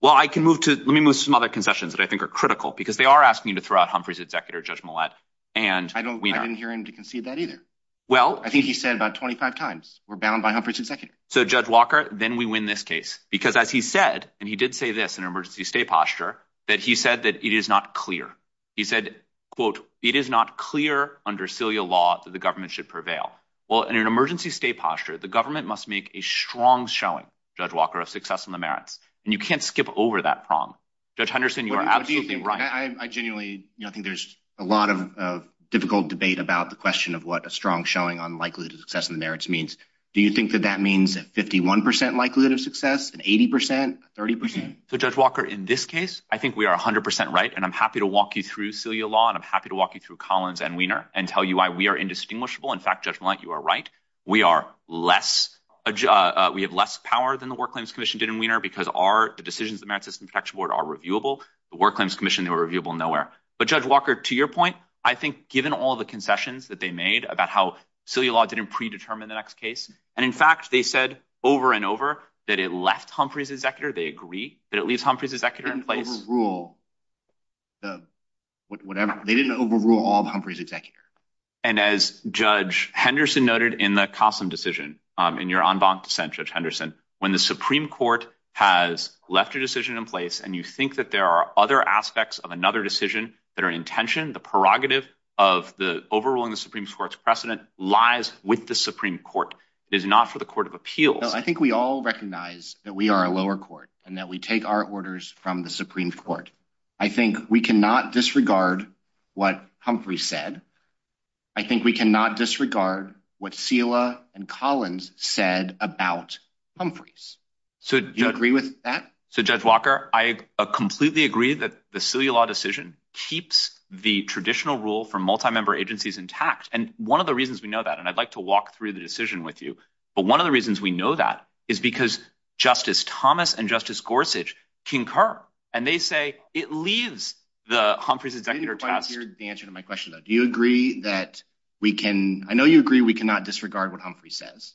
Well, I can move to, let me move to some other concessions that I think are critical, because they are asking you to throw out Humphrey's executor, Judge Millett. And I didn't hear him to concede that either. Well, I think he said about 25 times, we're bound by Humphrey's executor. So, Judge Walker, then we win this case, because as he said, and he did say this in an emergency state posture, that he said that it is not clear. He said, quote, it is not clear under Celia law that the government should prevail. Well, in an emergency state posture, the government must make a strong showing, Judge Walker, of success in the merits. And you can't skip over that prong. Judge Henderson, you are absolutely right. I genuinely, you know, I think there's a lot of difficult debate about the question of what a strong showing on likelihood of success in the merits means. Do you think that that means a 51% likelihood of success, an 80%, a 30%? So, Judge Walker, in this case, I think we are 100% right. And I'm happy to walk you through Celia law, and I'm happy to walk you through Collins and Wiener and tell you why we are indistinguishable. In fact, Judge Millett, you are right. We are less, we have less power than the War Claims Commission did in Wiener, because our, the decisions of the Merit System Protection Board are reviewable. The War Claims Commission, they were reviewable nowhere. But Judge Walker, to your point, I think given all the concessions that they made about how Celia law didn't predetermine the next case. And in fact, they said over and over that it left Humphrey's executor. They agree that it leaves Humphrey's executor in place. They didn't overrule the, whatever. They didn't overrule all of Humphrey's executor. And as Judge Henderson noted in the Cossum decision, in your en banc dissent, Judge Henderson, when the Supreme Court has left your decision in place, and you think that there are other aspects of another decision that are intention, the prerogative of the overruling the Supreme Court's precedent lies with the Supreme Court. It is not for the Court of Appeals. I think we all recognize that we are a lower court and that we take our orders from the Supreme Court. I think we cannot disregard what Humphrey said. I think we cannot disregard what Celia and Collins said about Humphrey's. So do you agree with that? So Judge Walker, I completely agree that the Celia law decision keeps the traditional rule for multi-member agencies intact. And one of the reasons we know that, and I'd like to walk through the decision with you, but one of the reasons we know that is because Justice Thomas and Justice Gorsuch concur. And they say it leaves the Humphrey's executor in place. I didn't quite hear the answer to my question though. Do you agree that we can, I know you agree we cannot disregard what Humphrey says.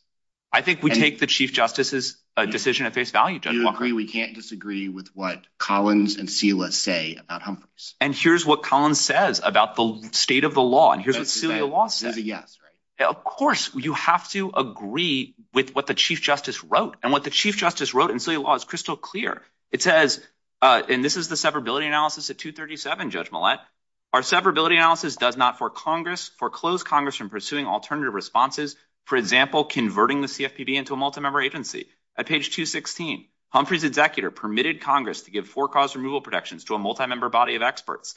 I think we take the Chief Justice's decision at face value, Judge Walker. Do you agree we can't disagree with what Collins and Celia say about Humphrey's? And here's what Collins says about the state of the law. And here's what Celia law says. Of course, you have to agree with what the Chief Justice wrote. And what the Chief Justice wrote in Celia law is crystal clear. It says, and this is the separability analysis at 237, Judge Millett. Our separability analysis does not foreclose Congress from pursuing alternative responses. For example, converting the CFPB into a multi-member agency. At page 216, Humphrey's executor permitted Congress to give foreclosed removal protections to a multi-member body of experts.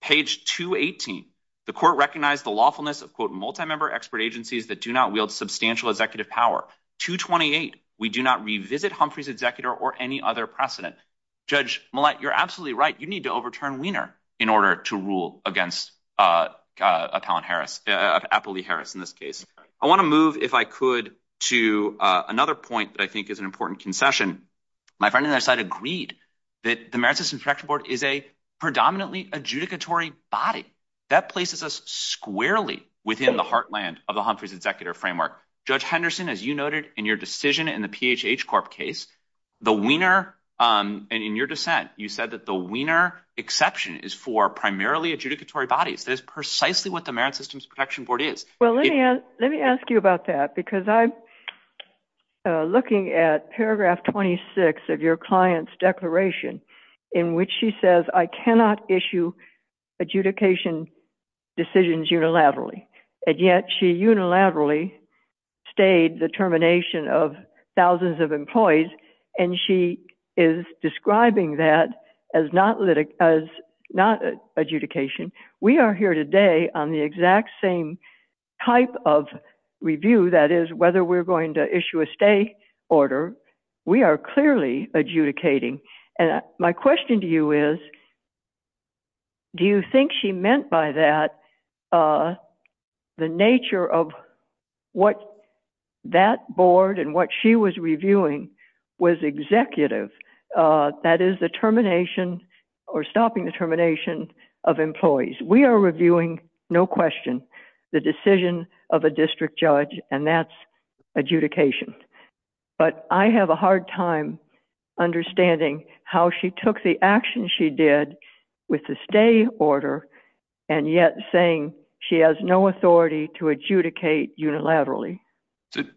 Page 218, the court recognized the lawfulness of quote, multi-member expert agencies that do not wield substantial executive power. 228, we do not revisit Humphrey's executor or any other precedent. Judge Millett, you're absolutely right. You need to overturn Wiener in order to rule against Apolli Harris in this case. I want to move, if I could, to another point that I think is an important concession. My friend on that side agreed that the Merit Systems Protection Board is a predominantly adjudicatory body. That places us squarely within the heartland of the Humphrey's executor framework. Judge Henderson, as you noted in your decision in the PHH Corp case, the Wiener, and in your dissent, you said that the Wiener exception is for primarily adjudicatory bodies. That is precisely what the Merit Systems Protection Board is. Well, let me ask you about that because I'm looking at paragraph 26 of your client's declaration in which she says, I cannot issue adjudication decisions unilaterally. And yet, she unilaterally stayed the termination of thousands of employees, and she is describing that as not adjudication. We are here today on the exact same type of review, that is, whether we're going to issue a stay order. We are clearly adjudicating. And my question to you is, do you think she meant by that the nature of what that board and what she was reviewing was executive? That is the termination or stopping the termination of employees. We are reviewing, no question, the decision of a district judge, and that's adjudication. But I have a hard time understanding how she took the action she did with the stay order, and yet saying she has no authority to adjudicate unilaterally.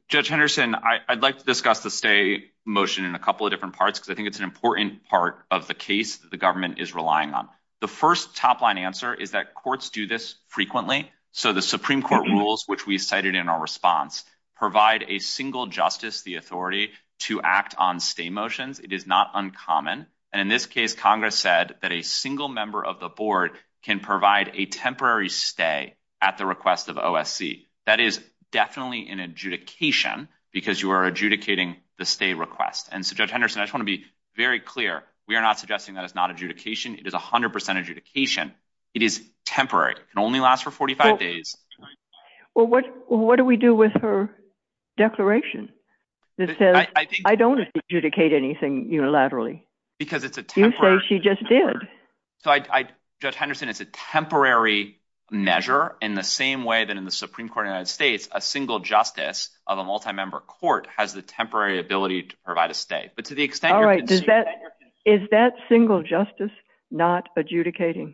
Judge Henderson, I'd like to discuss the stay motion in a couple of different parts, because I think it's an important part of the case that the government is relying on. The first top-line answer is that courts do this frequently. So the Supreme Court rules, which we cited in our response, provide a single justice the authority to act on stay motions. It is not uncommon. And in this case, Congress said that a single member of the board can provide a temporary stay at the request of OSC. That is definitely an adjudication, because you are adjudicating the stay request. And so, Judge Henderson, I just want to be very clear. We are not suggesting that it's not adjudication. It is 100% adjudication. It is temporary. It can only last for 45 days. Well, what do we do with her declaration that says, I don't adjudicate anything unilaterally? Because it's a temporary— You say she just did. So, Judge Henderson, it's a temporary measure in the same way that in the Supreme Court of the United States, a single justice of a multi-member court has the temporary ability to provide a stay. Is that single justice not adjudicating?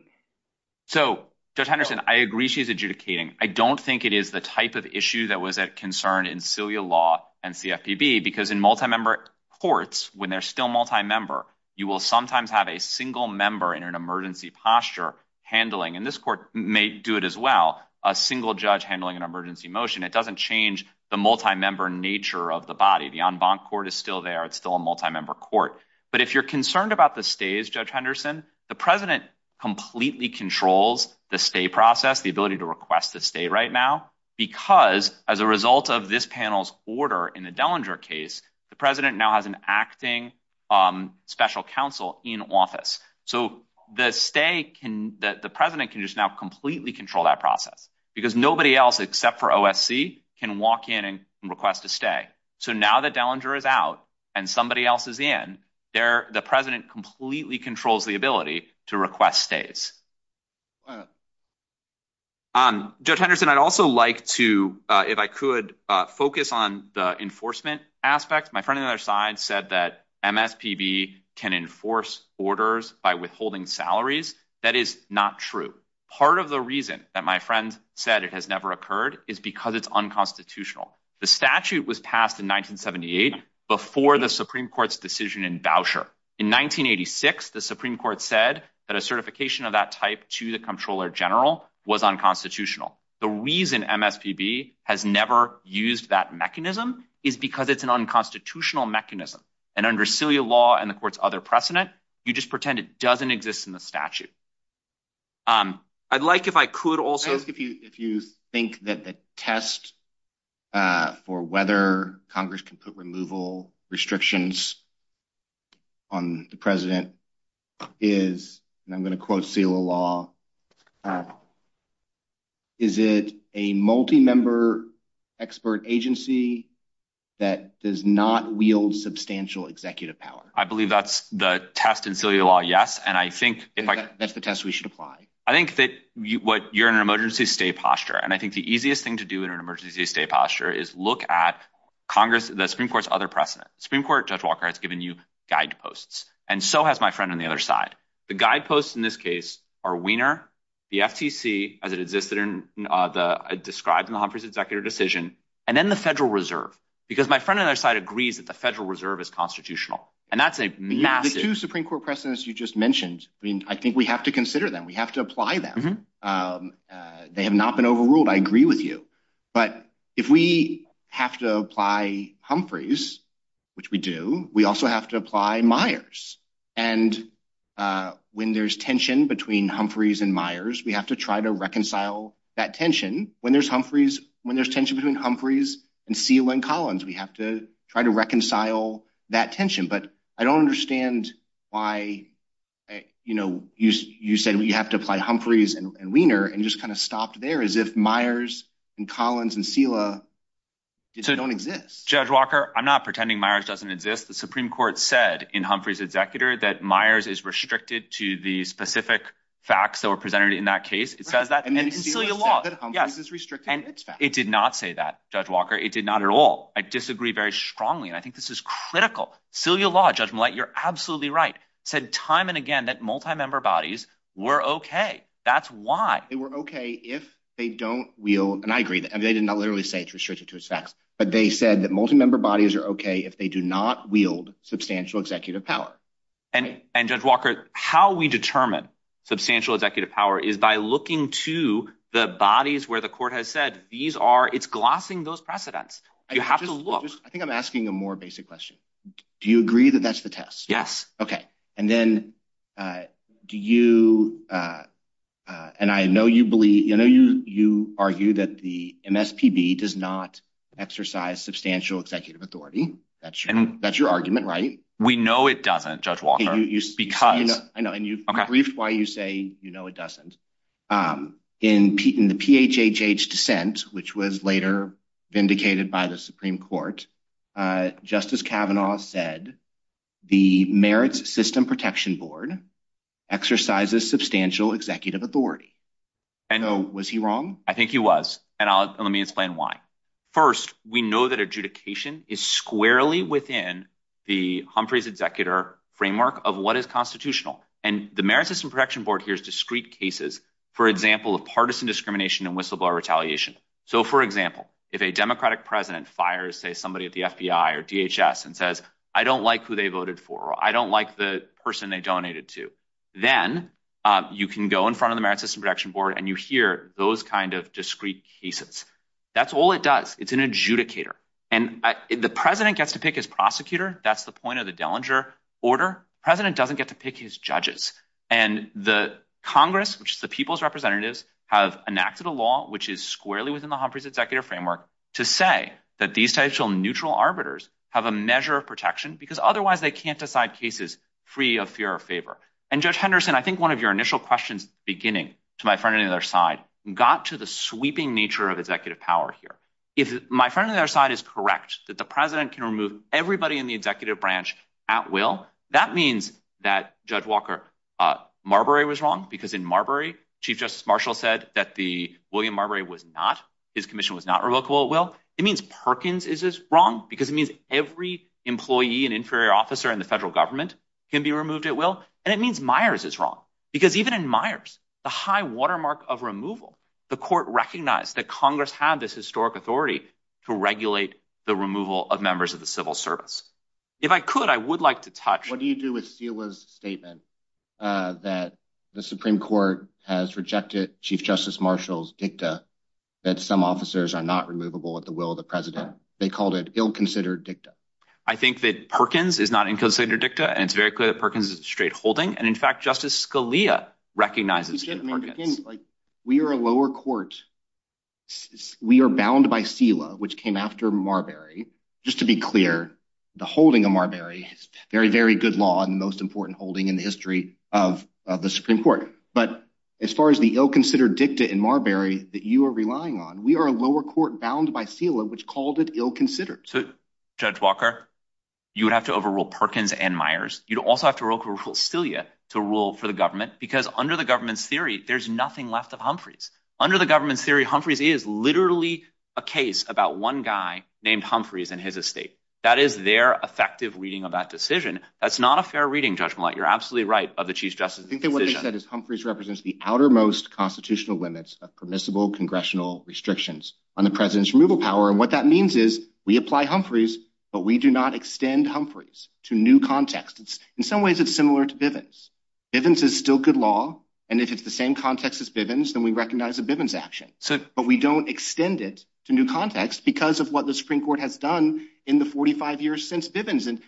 So, Judge Henderson, I agree she's adjudicating. I don't think it is the type of issue that was a concern in Celia Law and CFPB, because in multi-member courts, when they're still multi-member, you will sometimes have a single member in an emergency posture handling—and this court may do it as well—a single judge handling an emergency motion. It doesn't change the multi-member nature of the body. The en banc court is still there. It's still a multi-member court. But if you're concerned about the stays, Judge Henderson, the president completely controls the stay process, the ability to request a stay right now, because as a result of this panel's order in the Dellinger case, the president now has an acting special counsel in office. So, the stay can—the president can just now completely control that process, because nobody else except for OSC can walk in and request a stay. So, now that Dellinger is out and somebody else is in, the president completely controls the ability to request stays. Judge Henderson, I'd also like to, if I could, focus on the enforcement aspect. My friend on the other side said that MSPB can enforce orders by withholding salaries. That is not true. Part of the reason that my friend said it has never occurred is because it's unconstitutional. The statute was passed in 1978 before the Supreme Court's decision in Voucher. In 1986, the Supreme Court said that a certification of that type to the Comptroller General was unconstitutional. The reason MSPB has never used that mechanism is because it's an unconstitutional mechanism. And under CILIA law and the court's other precedent, you just pretend it doesn't exist in the statute. I'd like, if I could also, if you think that the test for whether Congress can put removal restrictions on the president is, and I'm going to quote CILIA law, is it a multi-member expert agency that does not wield substantial executive power? I believe that's the test in CILIA law, yes. That's the test we should apply. I think that you're in an emergency stay posture. And I think the easiest thing to do in an emergency stay posture is look at the Supreme Court's other precedent. Supreme Court, Judge Walker has given you guideposts, and so has my friend on the other side. The guideposts in this case are Wiener, the FTC as it existed in the, described in the Humphrey's executive decision, and then the Federal Reserve. Because my friend on the other side agreed that the Federal Reserve is constitutional. And that's a massive- I mean, I think we have to consider them. We have to apply them. They have not been overruled. I agree with you. But if we have to apply Humphrey's, which we do, we also have to apply Myers. And when there's tension between Humphrey's and Myers, we have to try to reconcile that tension. When there's Humphrey's, when there's tension between Humphrey's and Steele and Collins, we have to try to reconcile that tension. But I don't understand why you said we have to apply Humphrey's and Wiener, and you just kind of stopped there, as if Myers and Collins and Steele don't exist. Judge Walker, I'm not pretending Myers doesn't exist. The Supreme Court said in Humphrey's executor that Myers is restricted to the specific facts that were presented in that case. It says that in Steele's law, that Humphrey's is restricted to its facts. It did not say that, Judge Walker. It did not at all. I disagree very strongly, and I think this is critical. Steele's law, Judge Millett, you're absolutely right, said time and again that multi-member bodies were okay. That's why. They were okay if they don't wield, and I agree, and they did not literally say it's restricted to its facts, but they said that multi-member bodies are okay if they do not wield substantial executive power. And Judge Walker, how we determine substantial executive power is by looking to the bodies where the court has said these are, it's glossing those precedents. You have to look. I think I'm asking a more basic question. Do you agree that that's the test? Yes. Okay. And then do you, and I know you believe, I know you argue that the MSPB does not exercise substantial executive authority. That's your argument, right? We know it doesn't, Judge Walker. You speak highly of, I know, and you've briefed why you say you know it doesn't. In the PHHH dissent, which was later vindicated by the Supreme Court, Justice Kavanaugh said the Merits System Protection Board exercises substantial executive authority. I know. Was he wrong? I think he was, and let me explain why. First, we know that adjudication is squarely within the Humphrey's executor framework of what is constitutional, and the Merits System Protection Board hears discrete cases, for example, of partisan discrimination and whistleblower retaliation. So, for example, if a Democratic president fires, say, somebody at the FBI or DHS and says, I don't like who they voted for, or I don't like the person they donated to, then you can go in front of the Merits System Protection Board and you hear those kind of discrete cases. That's all it does. It's an adjudicator, and the president gets to pick his prosecutor. That's the point of the Dellinger order. President doesn't get to pick his judges, and the Congress, which is the people's representatives, have enacted a law, which is squarely within the Humphrey's executive framework, to say that these types of neutral arbiters have a measure of protection, because otherwise they can't decide cases free of fear or favor. And Judge Henderson, I think one of your initial questions, beginning to my friend on the other side, got to the sweeping nature of executive power here. If my friend on the other side is correct that the president can remove everybody in the executive branch at will, that means that Judge Walker Marbury was wrong, because in the William Marbury was not, his commission was not removable at will. It means Perkins is wrong, because it means every employee and inferior officer in the federal government can be removed at will. And it means Myers is wrong, because even in Myers, the high watermark of removal, the court recognized that Congress had this historic authority to regulate the removal of members of the civil service. If I could, I would like to touch- Chief Justice Marshall's dicta that some officers are not removable at the will of the president. They called it ill-considered dicta. I think that Perkins is not an ill-considered dicta. And it's very clear that Perkins is a straight holding. And in fact, Justice Scalia recognizes- We are a lower court. We are bound by SILA, which came after Marbury. Just to be clear, the holding of Marbury, very, very good law and the most important holding in the history of the Supreme Court. But as far as the ill-considered dicta in Marbury that you are relying on, we are a lower court bound by SILA, which called it ill-considered. So, Judge Walker, you would have to overrule Perkins and Myers. You'd also have to overrule SILA to rule for the government, because under the government's theory, there's nothing left of Humphreys. Under the government's theory, Humphreys is literally a case about one guy named Humphreys and his estate. That is their effective reading of that decision. That's not a fair reading, Judge Millet. You're absolutely right of the Chief Justice's decision. I think that what he said is Humphreys represents the outermost constitutional limits of permissible congressional restrictions on the president's removal power. And what that means is we apply Humphreys, but we do not extend Humphreys to new contexts. In some ways, it's similar to Bivens. Bivens is still good law. And if it's the same context as Bivens, then we recognize the Bivens action. But we don't extend it to new context because of what the Supreme Court has done in the 45 years since Bivens. And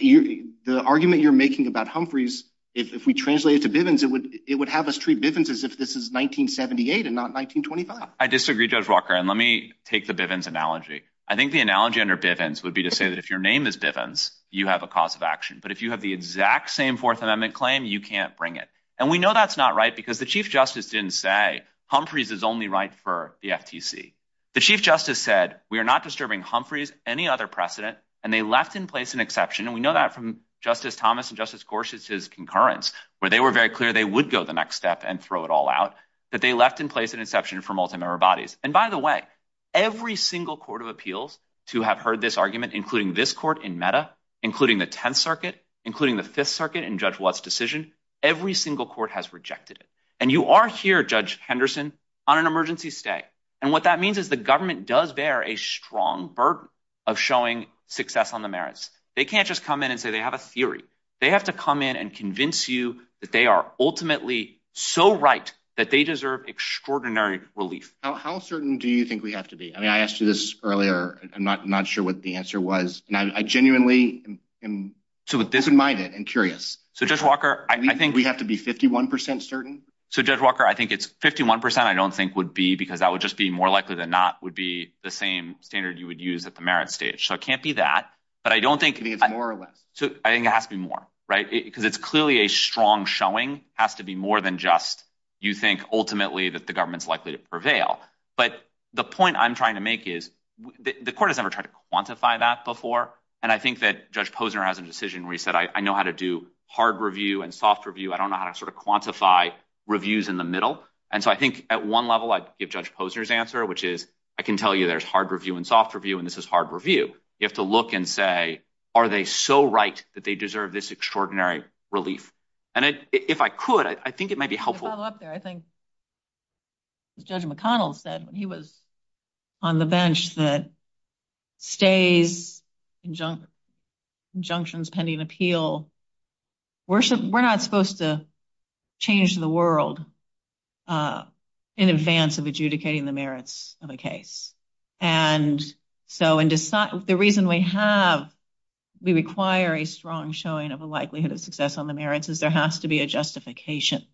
the argument you're making about Humphreys, if we translate it to Bivens, it would have us treat Bivens as if this is 1978 and not 1925. I disagree, Judge Walker. And let me take the Bivens analogy. I think the analogy under Bivens would be to say that if your name is Bivens, you have a cause of action. But if you have the exact same Fourth Amendment claim, you can't bring it. And we know that's not right because the Chief Justice didn't say Humphreys is only right for the FTC. The Chief Justice said, we are not disturbing Humphreys, any other precedent. And they left in place an exception. And we know that from Justice Thomas and Justice Gorsuch's concurrence, where they were very clear they would go the next step and throw it all out, that they left in place an exception for multi-member bodies. And by the way, every single court of appeals to have heard this argument, including this court in META, including the Tenth Circuit, including the Fifth Circuit in Judge Watt's decision, every single court has rejected it. And you are here, Judge Henderson, on an emergency stay. And what that means is the government does bear a strong burden of showing success on the merits. They can't just come in and say they have a theory. They have to come in and convince you that they are ultimately so right that they deserve extraordinary relief. Now, how certain do you think we have to be? I mean, I asked you this earlier. I'm not sure what the answer was. And I genuinely am disinvited and curious. So Judge Walker, I think we have to be 51% certain? So Judge Walker, I think it's 51% I don't think would be, because that would just be more likely than not would be the same standard you would use at the merit stage. So it can't be that. But I don't think- It could be more of it. So I think it has to be more, right? Because it's clearly a strong showing. It has to be more than just you think ultimately that the government's likely to prevail. But the point I'm trying to make is the court has never tried to quantify that before. And I think that Judge Posner has a decision where he said, I know how to do hard review and soft review. I don't know how to sort of quantify reviews in the middle. And so I think at one level, I give Judge Posner's answer, which is, I can tell you there's hard review and soft review, and this is hard review. You have to look and say, are they so right that they deserve this extraordinary relief? And if I could, I think it might be helpful. To follow up there, I think Judge McConnell said when he was on the bench that stays in the bench. Conjunctions pending appeal. We're not supposed to change the world in advance of adjudicating the merits of a case. And so the reason we have, we require a strong showing of a likelihood of success on the merits is there has to be a justification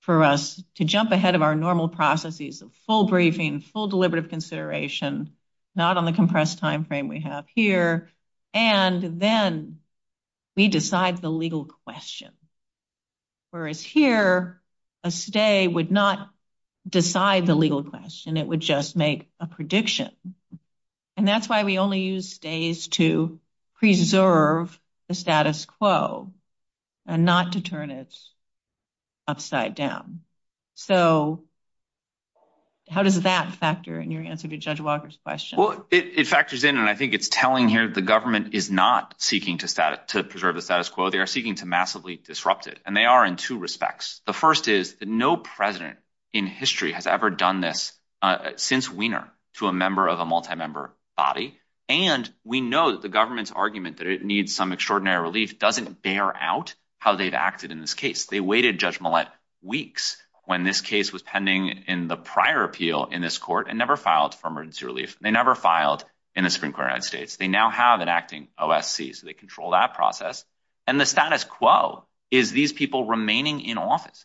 for us to jump ahead of our normal processes of full briefing, full deliberative consideration, not on the compressed timeframe we have here, and then we decide the legal question. Whereas here, a stay would not decide the legal question. It would just make a prediction. And that's why we only use stays to preserve the status quo and not to turn it upside down. So how does that factor in your answer to Judge Walker's question? It factors in, and I think it's telling here, the government is not seeking to preserve the status quo. They are seeking to massively disrupt it. And they are in two respects. The first is that no president in history has ever done this since Wiener to a member of a multi-member body. And we know that the government's argument that it needs some extraordinary relief doesn't bear out how they've acted in this case. They waited Judge Millett weeks when this case was pending in the prior appeal in this court and never filed for emergency relief. They never filed in the Supreme Court of the United States. They now have an acting OSC. So they control that process. And the status quo is these people remaining in office.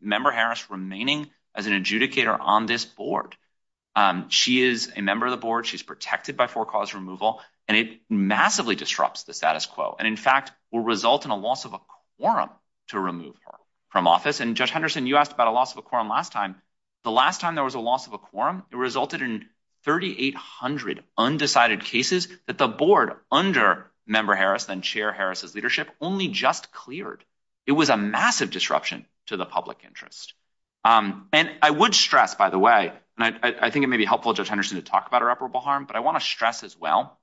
Member Harris remaining as an adjudicator on this board. She is a member of the board. She's protected by four cause removal. And it massively disrupts the status quo. And in fact, will result in a loss of a quorum to remove her from office. And Judge Henderson, you asked about a loss of a quorum last time. The last time there was a loss of a quorum, it resulted in 3,800 undecided cases that the board under Member Harris and Chair Harris's leadership only just cleared. It was a massive disruption to the public interest. And I would stress, by the way, and I think it may be helpful, Judge Henderson, to talk about irreparable harm, but I want to stress as well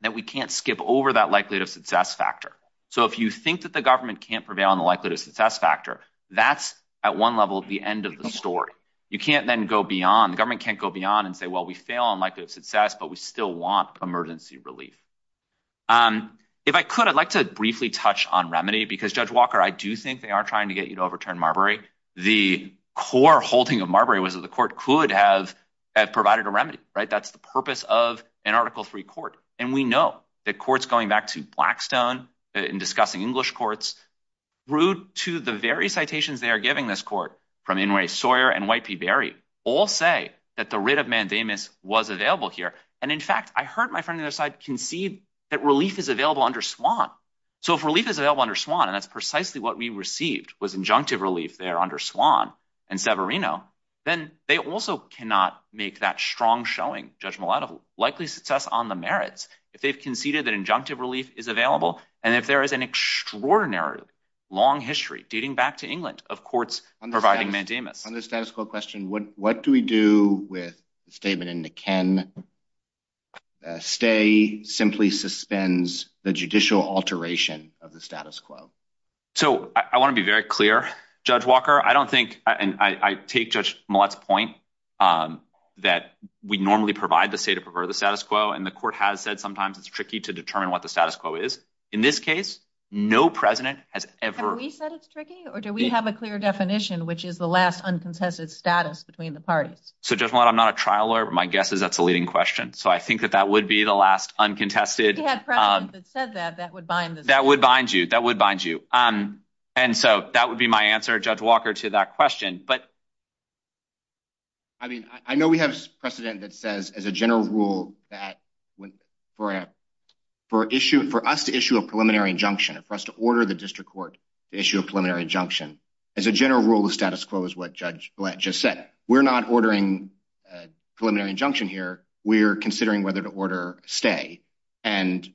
that we can't skip over that likelihood of success factor. So if you think that the government can't prevail on the likelihood of success factor, that's at one level of the end of the story. You can't then go beyond. The government can't go beyond and say, well, we fail on likelihood of success, but we still want emergency relief. If I could, I'd like to briefly touch on remedy, because Judge Walker, I do think they are trying to get you to overturn Marbury. The core holding of Marbury was that the court could have provided a remedy, right? That's the purpose of an article-free court. And we know that courts going back to Blackstone and discussing English courts, rude to the various citations they are giving this court, from Inouye Sawyer and White P. Barry, all say that the writ of mandamus was available here. And in fact, I heard my friend on the other side concede that relief is available under Swan. So if relief is available under Swan, and that's precisely what we received was injunctive relief there under Swan and Severino, then they also cannot make that strong showing, Judge Malauulu, likely success on the merits, if they've conceded that injunctive relief is available. And if there is an extraordinary long history dating back to England of courts providing mandamus- On the status quo question, what do we do with the statement in the Ken stay simply suspends the judicial alteration of the status quo? So I want to be very clear, Judge Walker. I don't think, and I take Judge Mallett's point that we normally provide the say to prefer the status quo, and the court has said sometimes it's tricky to determine what the in this case, no president has ever- Have we said it's tricky, or do we have a clear definition, which is the last uncontested status between the parties? So Judge Malauulu, I'm not a trial lawyer, but my guess is that's a leading question. So I think that that would be the last uncontested- If you had a president that said that, that would bind the- That would bind you. That would bind you. And so that would be my answer, Judge Walker, to that question. But I mean, I know we have precedent that says as a general rule that for us to issue a preliminary injunction, for us to order the district court to issue a preliminary injunction, as a general rule, the status quo is what Judge Blatt just said. We're not ordering a preliminary injunction here. We're considering whether to order a stay. And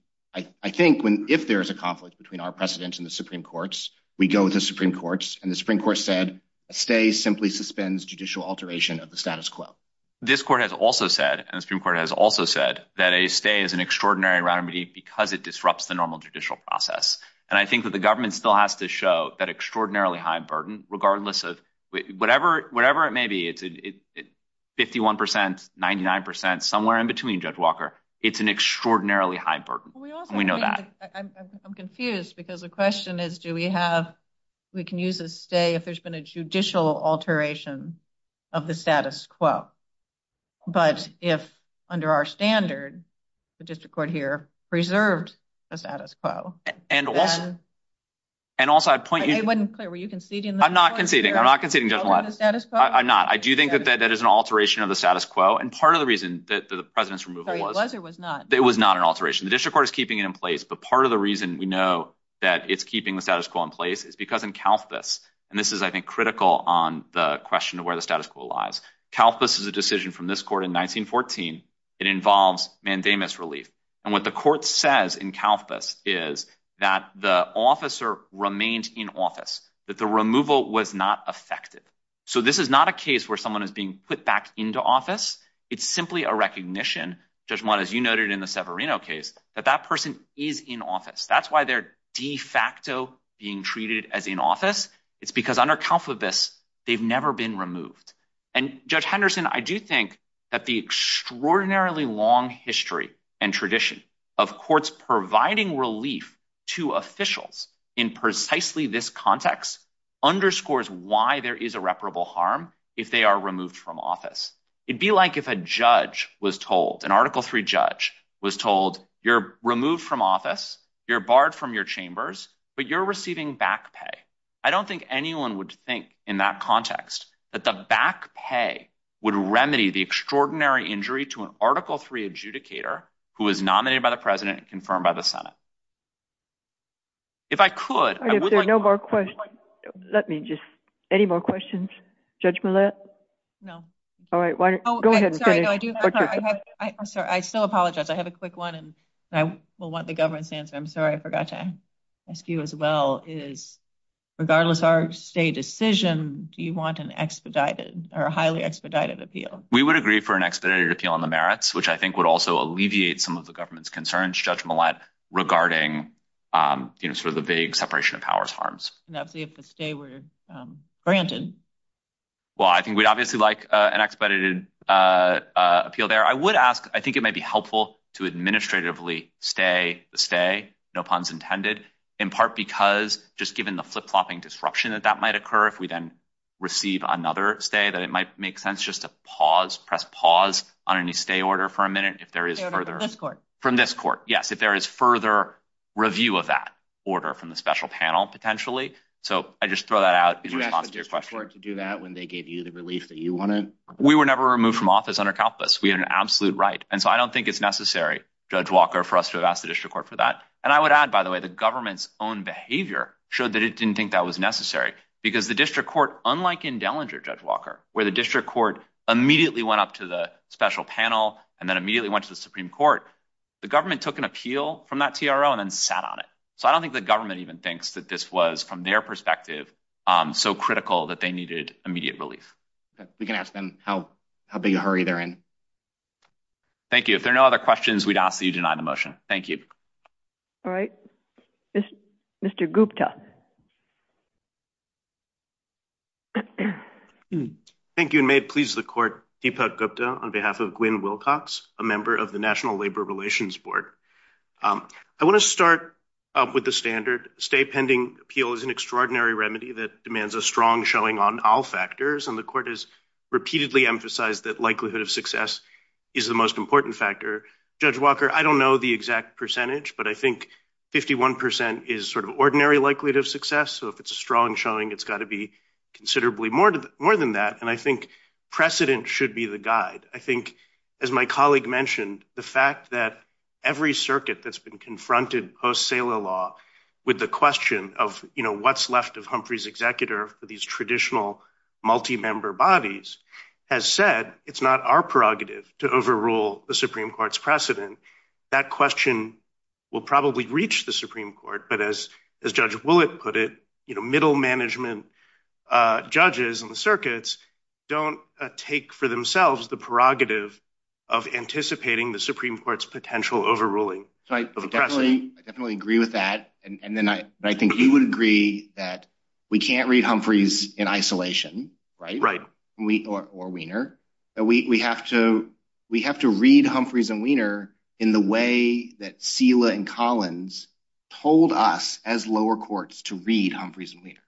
I think if there's a conflict between our precedents and the Supreme Court's, we go with the Supreme Court's, and the Supreme Court said a stay simply suspends judicial alteration of the status quo. This court has also said, and the Supreme Court has also said, that a stay is an extraordinary remedy because it disrupts the normal judicial process. And I think that the government still has to show that extraordinarily high burden, regardless of whatever it may be, it's 51%, 99%, somewhere in between, Judge Walker. It's an extraordinarily high burden. We know that. I'm confused because the question is, do we have- we can use a stay if there's been a judicial alteration of the status quo. But if, under our standard, the district court here preserves the status quo- And also, I'd point you- It wasn't clear. Were you conceding? I'm not conceding. I'm not conceding, Judge Millett. I'm not. I do think that that is an alteration of the status quo. And part of the reason that the president's removal was- It was or was not? It was not an alteration. The district court is keeping it in place. But part of the reason we know that it's keeping the status quo in place is because in CalPERS, and this is, I think, critical on the question of where the status quo lies. CalPERS is a decision from this court in 1914. It involves mandamus relief. And what the court says in CalPERS is that the officer remained in office, that the removal was not affected. So this is not a case where someone is being put back into office. It's simply a recognition, Judge Millett, as you noted in the Severino case, that that person is in office. That's why they're de facto being treated as in office. It's because under CalPERS, they've never been removed. And Judge Henderson, I do think that the extraordinarily long history and tradition of courts providing relief to officials in precisely this context underscores why there is irreparable harm if they are removed from office. It'd be like if a judge was told, an Article III judge was told, you're removed from office, you're barred from your chambers, but you're receiving back pay. I don't think anyone would think in that context that the back pay would remedy the extraordinary injury to an Article III adjudicator who was nominated by the president and confirmed by the Senate. If I could... If there's no more questions, let me just... Any more questions, Judge Millett? No. All right, go ahead. I'm sorry, I still apologize. I have a quick one and I will want the government's answer. I'm sorry, I forgot to ask you as well. Regardless of our stay decision, do you want an expedited or a highly expedited appeal? We would agree for an expedited appeal on the merits, which I think would also alleviate some of the government's concerns, Judge Millett, regarding sort of the vague separation of powers harms. That's if the stay were granted. Well, I think we'd obviously like an expedited appeal there. I would ask, I think it might be helpful to administratively stay the stay, no puns intended, in part because just given the flip-flopping disruption that that might occur if we then receive another stay, that it might make sense just to pause, press pause on any stay order for a minute if there is further... From this court, yes, if there is further review of that order from the special panel potentially. So I just throw that out. Did you ask the district court to do that when they gave you the relief that you wanted? We were never removed from office under CalPERS. We had an absolute right. And so I don't think it's necessary, Judge Walker, for us to ask the district court for that. And I would add, by the way, the government's own behavior showed that it didn't think that was necessary because the district court, unlike in Dellinger, Judge Walker, where the district court immediately went up to the special panel and then immediately went to the Supreme Court, the government took an appeal from that TRO and then sat on it. So I don't think the government even thinks that this was, from their perspective, so critical that they needed immediate relief. We can ask them how big a hurry they're in. Thank you. If there are no other questions, we'd ask that you deny the motion. Thank you. All right. Mr. Gupta. Thank you. And may it please the court, Deepak Gupta, on behalf of Gwen Wilcox, a member of the National Labor Relations Board. I want to start up with the standard. Stay pending appeal is an extraordinary remedy that demands a strong showing on all factors. And the court has repeatedly emphasized that likelihood of success is the most important factor. Judge Walker, I don't know the exact percentage, but I think 51% is sort of ordinary likelihood of success. So if it's a strong showing, it's got to be considerably more than that. And I think precedent should be the guide. I think, as my colleague mentioned, the fact that every circuit that's been confronted post-SALA law with the question of, you know, what's left of Humphrey's executor for these traditional multi-member bodies has said, it's not our prerogative to overrule the Supreme Court's precedent. That question will probably reach the Supreme Court. But as Judge Willett put it, you know, middle management judges in the circuits don't take for themselves the prerogative of anticipating the Supreme Court's potential overruling. So I definitely agree with that. And then I think he would agree that we can't read Humphrey's in isolation, right? Right. Or Wiener. We have to read Humphrey's and Wiener in the way that SILA and Collins told us as lower courts to read Humphrey's and Wiener.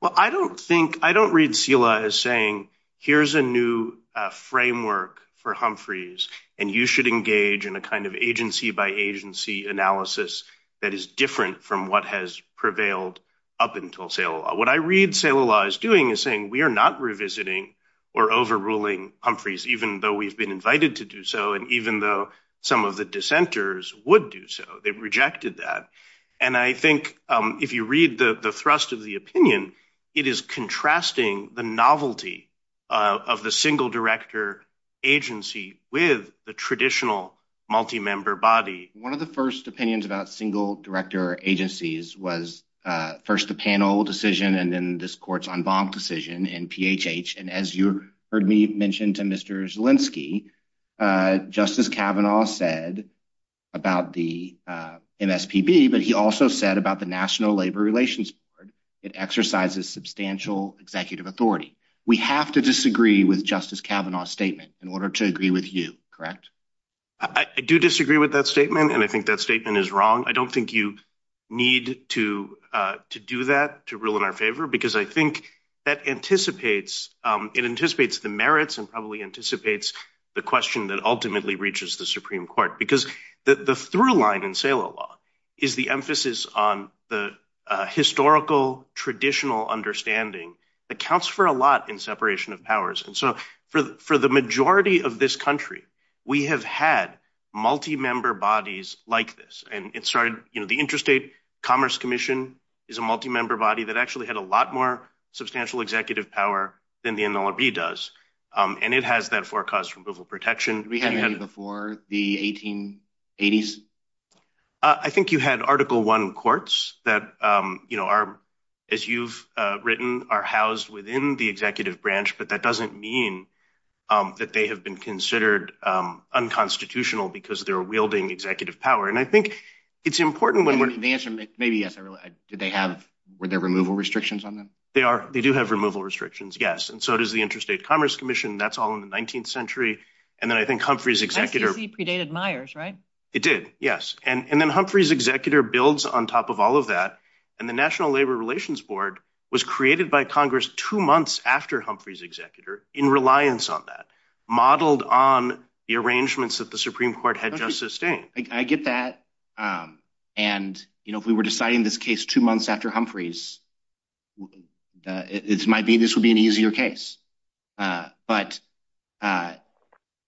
Well, I don't think, I don't read SILA as saying, here's a new framework for Humphrey's and you should engage in a kind of agency by agency analysis that is different from what has prevailed up until SALA. What I read SILA law is doing is saying, we are not revisiting or overruling Humphrey's even though we've been invited to do so. And even though some of the dissenters would do so, they've rejected that. And I think if you read the thrust of the opinion, it is contrasting the novelty of the single director agency with the traditional multi-member body. One of the first opinions about single director agencies was first the panel decision and then this court's en banc decision in PHH. And as you heard me mention to Mr. Zielinski, Justice Kavanaugh said about the MSPB, but he also said about the National Labor Relations Board, it exercises substantial executive authority. We have to disagree with Justice Kavanaugh's statement in order to agree with you, correct? I do disagree with that statement. And I think that statement is wrong. I don't think you need to do that to rule in our favor, because I think that anticipates the merits and probably anticipates the question that ultimately reaches the Supreme Court. Because the through line in SALA law is the emphasis on the historical, traditional understanding that counts for a lot in separation of powers. And so for the majority of this country, we have had multi-member bodies like this. And it started, the Interstate Commerce Commission is a multi-member body that actually had a lot more substantial executive power than the NLRB does. And it has, therefore, caused removal protection. We had it before the 1880s? I think you had Article I courts that are, as you've written, are housed within the executive branch, but that doesn't mean that they have been considered unconstitutional because they were wielding executive power. And I think it's important when we're- And the answer may be yes or no. Did they have, were there removal restrictions on them? They are. They do have removal restrictions, yes. And so does the Interstate Commerce Commission. That's all in the 19th century. And then I think Humphrey's executor- I think he predated Myers, right? It did, yes. And then Humphrey's executor builds on top of all of that. And the National Labor Relations Board was created by Congress two months after Humphrey's executor in reliance on that, modeled on the arrangements that the Supreme Court had just sustained. I get that. And if we were deciding this case two months after Humphrey's, it might be this would be an easier case. But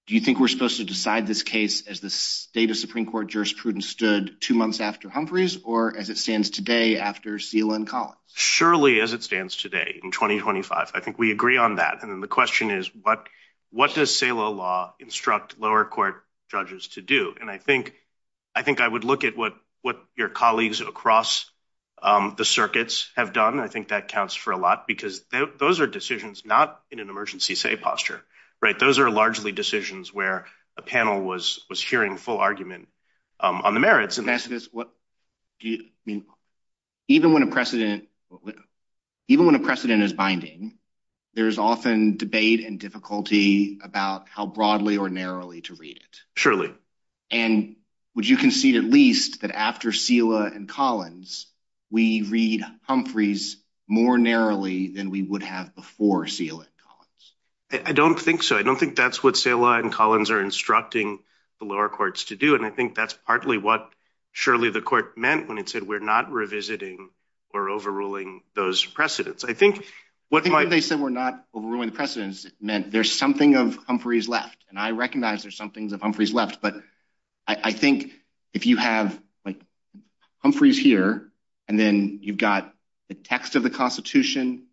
do you think we're supposed to decide this case as the state of Supreme Court jurisprudence stood two months after Humphrey's, or as it stands today after CLN Collins? Surely as it stands today in 2025. I think we agree on that. And then the question is, what does SALO law instruct lower court judges to do? And I think I would look at what your colleagues across the circuits have done. I think that counts for a lot because those are decisions not in an emergency safe posture, right? A panel was sharing a full argument on the merits. The question is, even when a precedent is binding, there's often debate and difficulty about how broadly or narrowly to read it. Surely. And would you concede at least that after SILA and Collins, we read Humphrey's more narrowly than we would have before SILA and Collins? I don't think so. I don't think that's what SILA and Collins are instructing the lower courts to do. And I think that's partly what surely the court meant when it said we're not revisiting or overruling those precedents. I think what they said were not overruling precedents meant there's something of Humphrey's left. And I recognize there's some things of Humphrey's left. But I think if you have Humphrey's here, and then you've got the text of the constitution,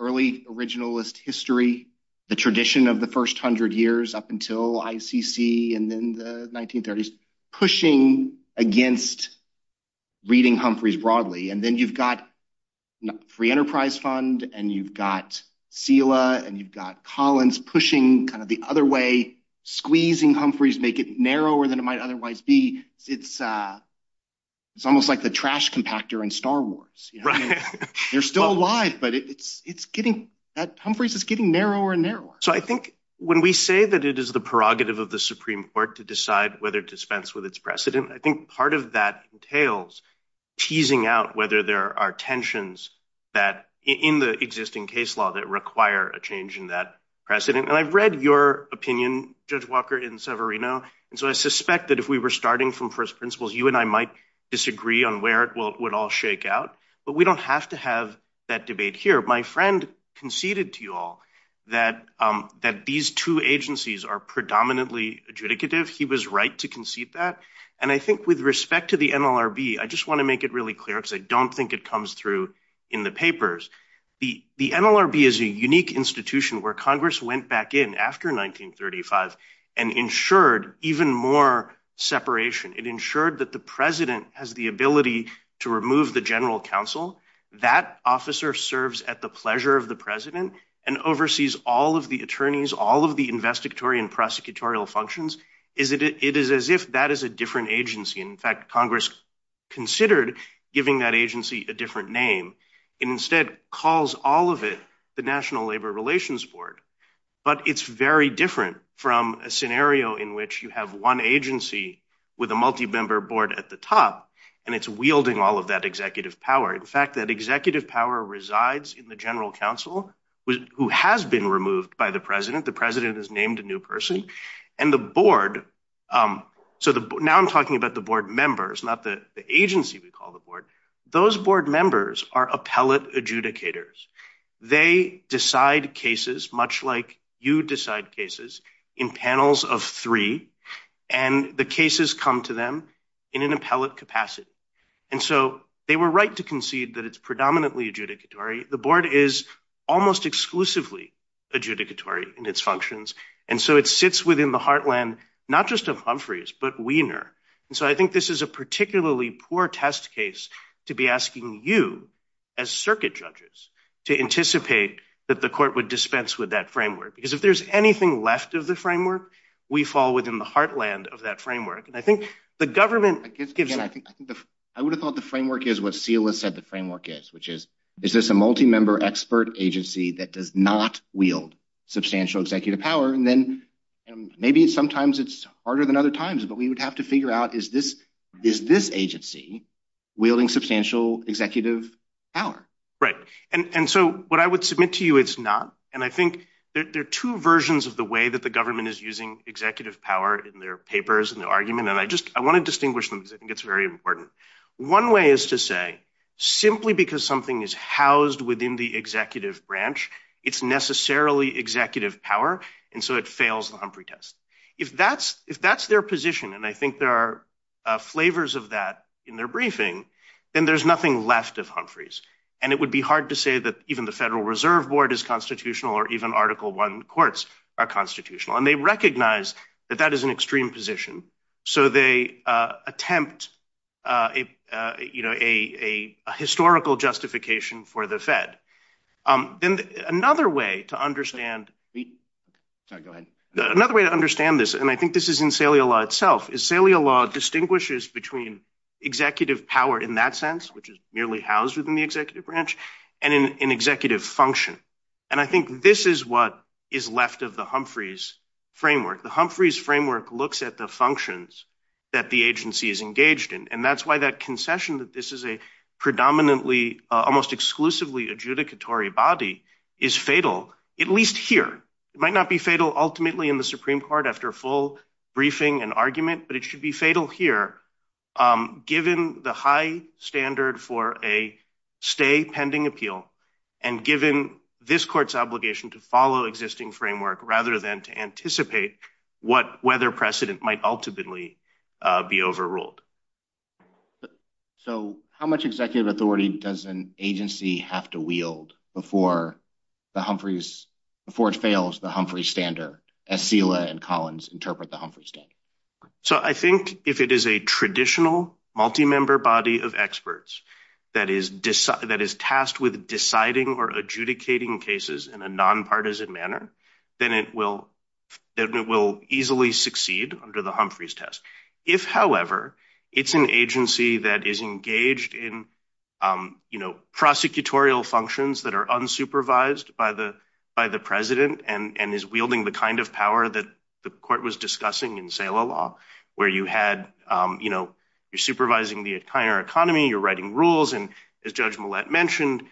early originalist history, the tradition of the first hundred years up until ICC and then the 1930s, pushing against reading Humphrey's broadly. And then you've got Free Enterprise Fund, and you've got SILA, and you've got Collins pushing kind of the other way, squeezing Humphrey's, make it narrower than it might otherwise be. It's almost like the trash compactor in Star Wars. You're still alive, but Humphrey's is getting narrower and narrower. So I think when we say that it is the prerogative of the Supreme Court to decide whether to dispense with its precedent, I think part of that entails teasing out whether there are tensions in the existing case law that require a change in that precedent. And I've read your opinion, Judge Walker, in Severino. And so I suspect that if we were starting from first principles, you and I might disagree on where it would all shake out. But we don't have to have that debate here. My friend conceded to you all that these two agencies are predominantly adjudicative. He was right to concede that. And I think with respect to the NLRB, I just want to make it really clear, because I don't think it comes through in the papers, the NLRB is a unique institution where Congress went back in after 1935 and ensured even more separation. It ensured that the president has the ability to remove the general counsel. That officer serves at the pleasure of the president and oversees all of the attorneys, all of the investigatory and prosecutorial functions. It is as if that is a different agency. In fact, Congress considered giving that agency a different name. It instead calls all of it the National Labor Relations Board. But it's very different from a scenario in which you have one agency with a multi-member board at the top, and it's wielding all of that executive power. In fact, that executive power resides in the general counsel who has been removed by the The president is named a new person. And the board, so now I'm talking about the board members, not the agency we call the Those board members are appellate adjudicators. They decide cases much like you decide cases in panels of three, and the cases come to them in an appellate capacity. And so they were right to concede that it's predominantly adjudicatory. The board is almost exclusively adjudicatory in its functions. And so it sits within the heartland, not just of Humphreys, but Wiener. And so I think this is a particularly poor test case to be asking you as circuit judges to anticipate that the court would dispense with that framework, because if there's anything left of the framework, we fall within the heartland of that framework. And I think the government. I would have thought the framework is what SILA said the framework is, which is, is this a multi-member expert agency that does not wield substantial executive power and then maybe sometimes it's harder than other times, but we would have to figure out is this is this agency wielding substantial executive power. Right. And so what I would submit to you. It's not. And I think there are two versions of the way that the government is using executive power in their papers and the argument. And I just I want to distinguish them. I think it's very important. One way is to say simply because something is housed within the executive branch. It's necessarily executive power. And so it fails the Humphrey test. If that's if that's their position, and I think there are flavors of that in their briefing, then there's nothing left of Humphrey's. And it would be hard to say that even the Federal Reserve Board is constitutional or even Article One courts are constitutional, and they recognize that that is an extreme position. So they attempt a historical justification for the Fed. Then another way to understand the. Sorry, go ahead. Another way to understand this, and I think this is in Saliala itself is Saliala distinguishes between executive power in that sense, which is nearly housed within the executive branch and in an executive function. And I think this is what is left of the Humphreys framework. The Humphreys framework looks at the functions that the agency is engaged in, and that's why that concession that this is a predominantly almost exclusively adjudicatory body is fatal, at least here. It might not be fatal ultimately in the Supreme Court after full briefing and argument, but it should be fatal here, given the high standard for a stay pending appeal and given this court's obligation to follow existing framework rather than to anticipate what weather precedent might ultimately be overruled. So how much executive authority does an agency have to wield before the Humphreys, before it fails the Humphreys standard, as Sheila and Collins interpret the Humphreys standard? So I think if it is a traditional multi-member body of experts that is tasked with deciding or adjudicating cases in a nonpartisan manner, then it will easily succeed under the Humphreys test. If, however, it's an agency that is engaged in prosecutorial functions that are unsupervised by the president and is wielding the kind of power that the court was discussing in SALA law, where you're supervising the entire economy, you're writing rules, and as Judge Millett mentioned,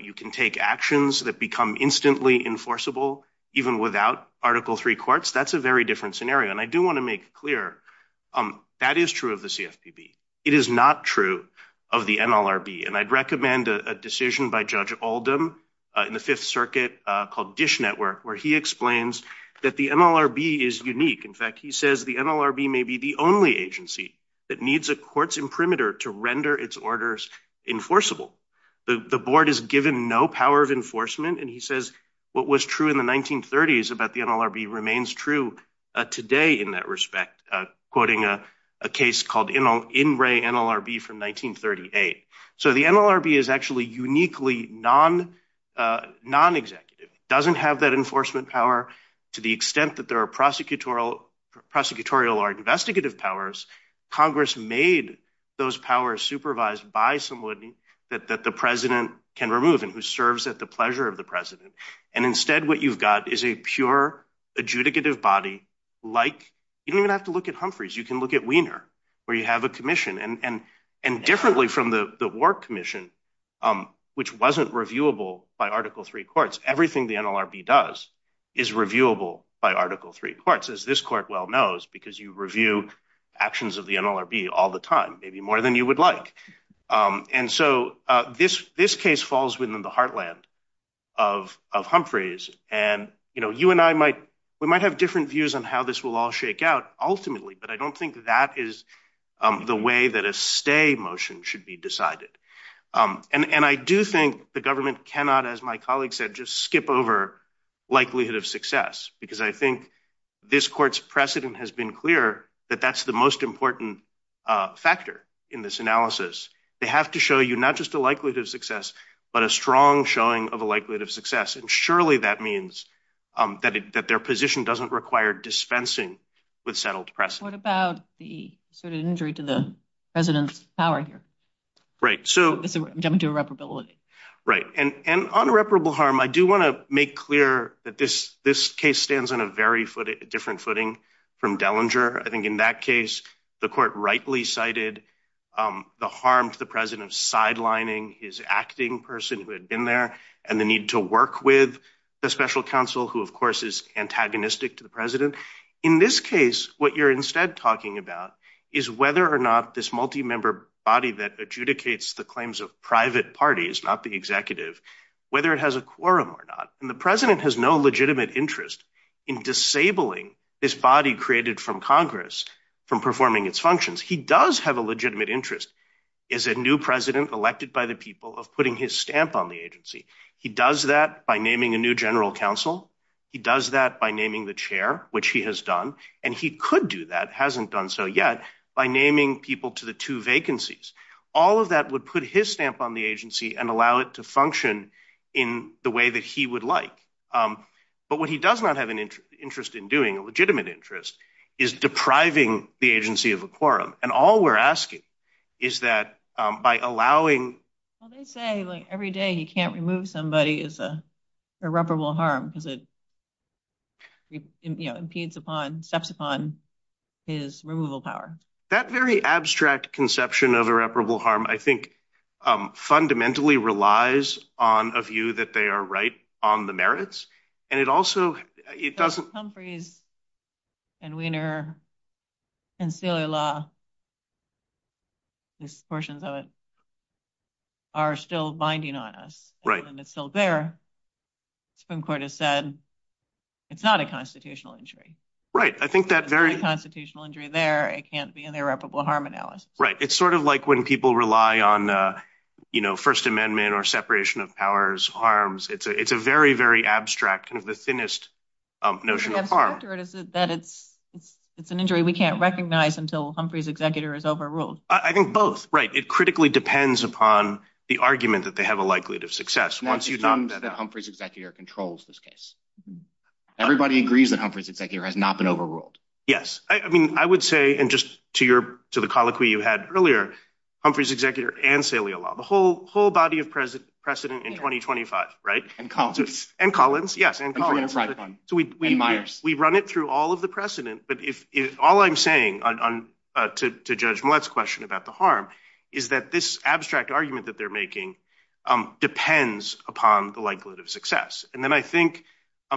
you can take actions that become instantly enforceable even without Article III courts, that's a very different scenario. And I do want to make clear that is true of the CFPB. It is not true of the NLRB. And I'd recommend a decision by Judge Oldham in the Fifth Circuit called Dish Network, where he explains that the NLRB is unique. In fact, he says the NLRB may be the only agency that needs a court's imprimatur to render its orders enforceable. The board is given no power of enforcement, and he says what was true in the 1930s about the NLRB remains true today in that respect, quoting a case called In Re NLRB from 1938. So the NLRB is actually uniquely non-executive, doesn't have that enforcement power to the extent that there are prosecutorial or investigative powers. Congress made those powers supervised by somebody that the president can remove and who serves at the pleasure of the president. And instead, what you've got is a pure adjudicative body like you don't even have to look at Humphreys. You can look at Weiner, where you have a commission. And differently from the Warp Commission, which wasn't reviewable by Article III courts, everything the NLRB does is reviewable by Article III courts, as this court well knows, because you review actions of the NLRB all the time, maybe more than you would like. And so this case falls within the heartland of Humphreys. And you and I might, we might have different views on how this will all shake out ultimately, but I don't think that is the way that a stay motion should be decided. And I do think the government cannot, as my colleague said, just skip over likelihood of success, because I think this court's precedent has been clear that that's the most important factor in this analysis. They have to show you not just the likelihood of success, but a strong showing of the likelihood of success. And surely that means that their position doesn't require dispensing with settled precedent. What about the sort of injury to the president's power here? Right. So I'm jumping to irreparably. Right. And on irreparable harm, I do want to make clear that this case stands on a very different footing from Dellinger. I think in that case, the court rightly cited the harm to the president sidelining his acting person who had been there and the need to work with the special counsel, who of course is antagonistic to the president. In this case, what you're instead talking about is whether or not this multi-member body that adjudicates the claims of private parties, not the executive, whether it has a quorum or not. The president has no legitimate interest in disabling this body created from Congress from performing its functions. He does have a legitimate interest as a new president elected by the people of putting his stamp on the agency. He does that by naming a new general counsel. He does that by naming the chair, which he has done, and he could do that, hasn't done so yet, by naming people to the two vacancies. All of that would put his stamp on the agency and allow it to function in the way that he would like, but what he does not have an interest in doing, a legitimate interest, is depriving the agency of a quorum. All we're asking is that by allowing- They say every day he can't remove somebody is irreparable harm because it impedes upon, steps upon his removal power. That very abstract conception of irreparable harm, I think, fundamentally relies on a view that they are right on the merits, and it also, it doesn't- Humphreys and Weiner and Celia Law, these portions of it, are still binding on us. Right. And it's still there. Supreme Court has said it's not a constitutional injury. Right. I think that very- Constitutional injury there, it can't be an irreparable harm analysis. Right. It's sort of like when people rely on First Amendment or separation of powers, harms, it's a very, very abstract, the thinnest notion of harm. The answer to it is that it's an injury we can't recognize until Humphreys' executor is overruled. I think both. Right. It critically depends upon the argument that they have a likelihood of success. Once you've done- Humphreys' executor controls this case. Everybody agrees that Humphreys' executor has not been overruled. Yes, I mean, I would say, and just to the colloquy you had earlier, Humphreys' executor and Celia Law, the whole body of precedent in 2025, right? And Collins. And Collins, yes. And Collins, and Weiner. We run it through all of the precedent. But if all I'm saying to Judge Millett's question about the harm is that this abstract argument that they're making depends upon the likelihood of success. And then I think,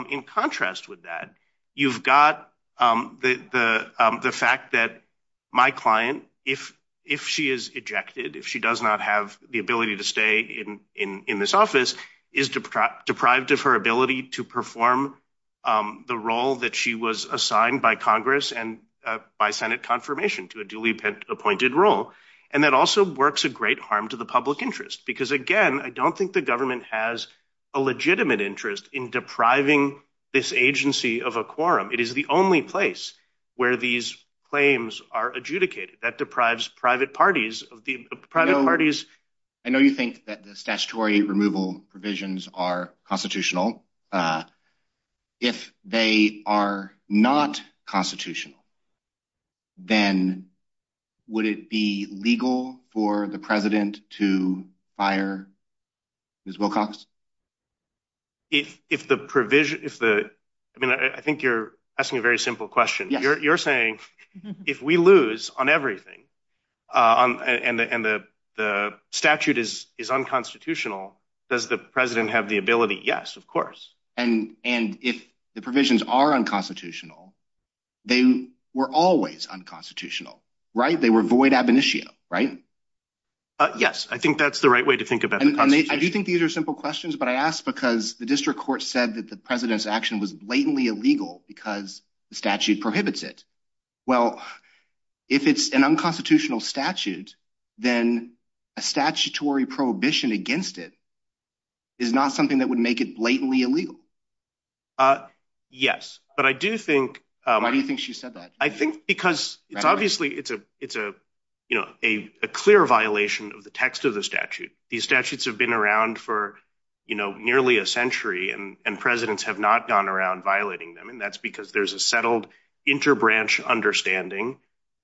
in contrast with that, you've got the fact that my client, if she is ejected, if she does not have the ability to stay in this office, is deprived of her ability to perform the role that she was assigned by Congress and by Senate confirmation to a duly appointed role. And that also works a great harm to the public interest. Because again, I don't think the government has a legitimate interest in depriving this agency of a quorum. It is the only place where these claims are adjudicated. That deprives private parties of the private parties. I know you think that the statutory removal provisions are constitutional. If they are not constitutional, then would it be legal for the president to fire Ms. I think you're asking a very simple question. You're saying, if we lose on everything, and the statute is unconstitutional, does the president have the ability? Yes, of course. And if the provisions are unconstitutional, they were always unconstitutional, right? They were void ab initio, right? Yes. I think that's the right way to think about it. And I do think these are simple questions, but I ask because the district court said that the president's action was blatantly illegal because the statute prohibits it. Well, if it's an unconstitutional statute, then a statutory prohibition against it is not something that would make it blatantly illegal. Yes. But I do think- Why do you think she said that? I think because it's obviously a clear violation of the text of the statute. These statutes have been around for nearly a century, and presidents have not gone around violating them. And that's because there's a settled interbranch understanding.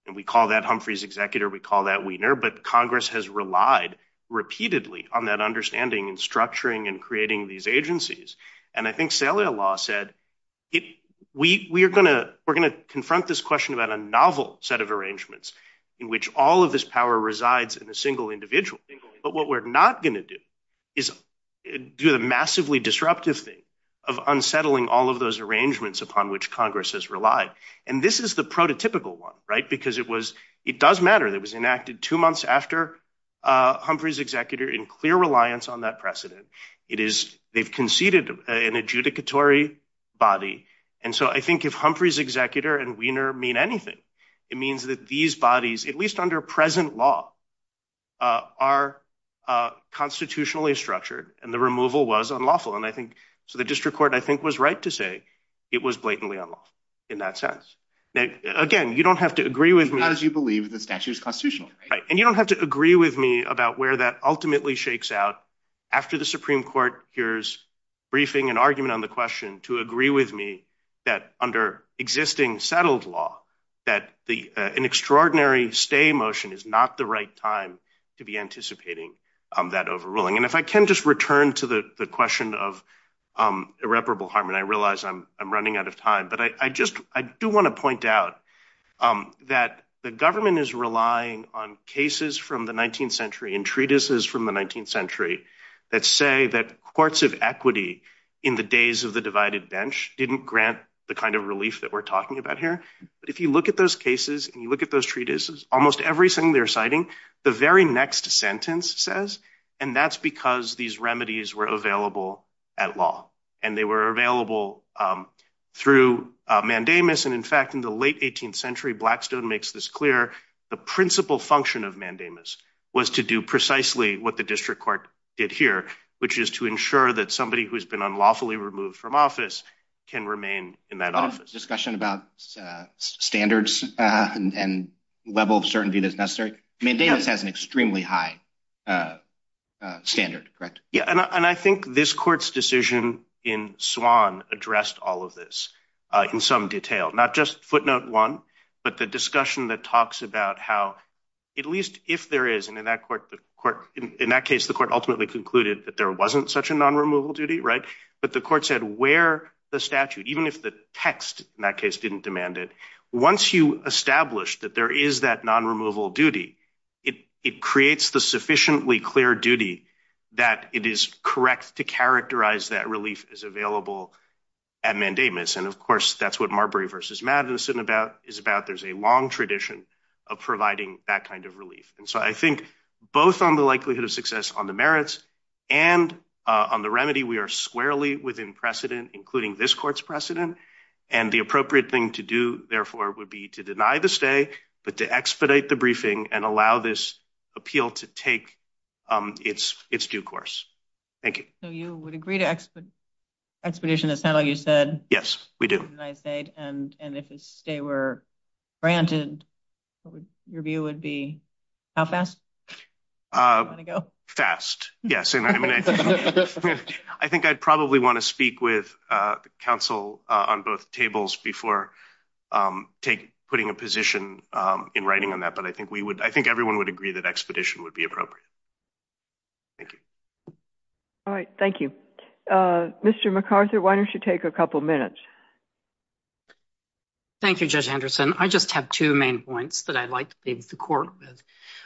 And we call that Humphrey's executor. We call that Wiener. But Congress has relied repeatedly on that understanding and structuring and creating these agencies. And I think cellular law said, we're going to confront this question about a novel set of arrangements in which all of this power resides in a single individual. But what we're not going to do is do a massively disruptive thing of unsettling all of those arrangements upon which Congress has relied. And this is the prototypical one, right? It does matter that it was enacted two months after Humphrey's executor in clear reliance on that precedent. They've conceded an adjudicatory body. And so I think if Humphrey's executor and Wiener mean anything, it means that these bodies, at least under present law, are constitutionally structured. And the removal was unlawful. So the district court, I think, was right to say it was blatantly unlawful in that sense. Again, you don't have to agree with me. Not as you believe the statute is constitutional. And you don't have to agree with me about where that ultimately shakes out after the Supreme Court hears briefing and argument on the question to agree with me that under existing settled law, that an extraordinary stay motion is not the right time to be anticipating that overruling. And if I can just return to the question of irreparable harm. And I realize I'm running out of time. I do want to point out that the government is relying on cases from the 19th century and treatises from the 19th century that say that courts of equity in the days of the divided bench didn't grant the kind of relief that we're talking about here. But if you look at those cases and you look at those treatises, almost everything they're citing, the very next sentence says, and that's because these remedies were available at law. And they were available through mandamus. And in fact, in the late 18th century, Blackstone makes this clear. The principal function of mandamus was to do precisely what the district court did here, which is to ensure that somebody who's been unlawfully removed from office can remain in that office. Discussion about standards and level of certainty that's necessary. Mandamus has an extremely high standard, correct? Yeah, and I think this court's decision in Swan addressed all of this in some detail, not just footnote one, but the discussion that talks about how, at least if there is, and in that case, the court ultimately concluded that there wasn't such a non-removal duty, right? But the court said where the statute, even if the text in that case didn't demand it, once you establish that there is that non-removal duty, it creates the sufficiently clear duty that it is correct to characterize that relief as available at mandamus. And of course, that's what Marbury versus Madison is about. There's a long tradition of providing that kind of relief. And so I think both on the likelihood of success on the merits and on the remedy, we are squarely within precedent, including this court's precedent. And the appropriate thing to do, therefore, would be to deny the stay, but to expedite the briefing and allow this appeal to take its due course. Thank you. So you would agree to expedition, is that all you said? Yes, we do. And if they were granted, what would your view would be? How fast would it go? Fast, yes. I think I'd probably want to speak with counsel on both tables before I take putting a position in writing on that. But I think everyone would agree that expedition would be appropriate. Thank you. All right, thank you. Mr. McArthur, why don't you take a couple minutes? Thank you, Judge Henderson. I just have two main points that I'd like to leave the court with.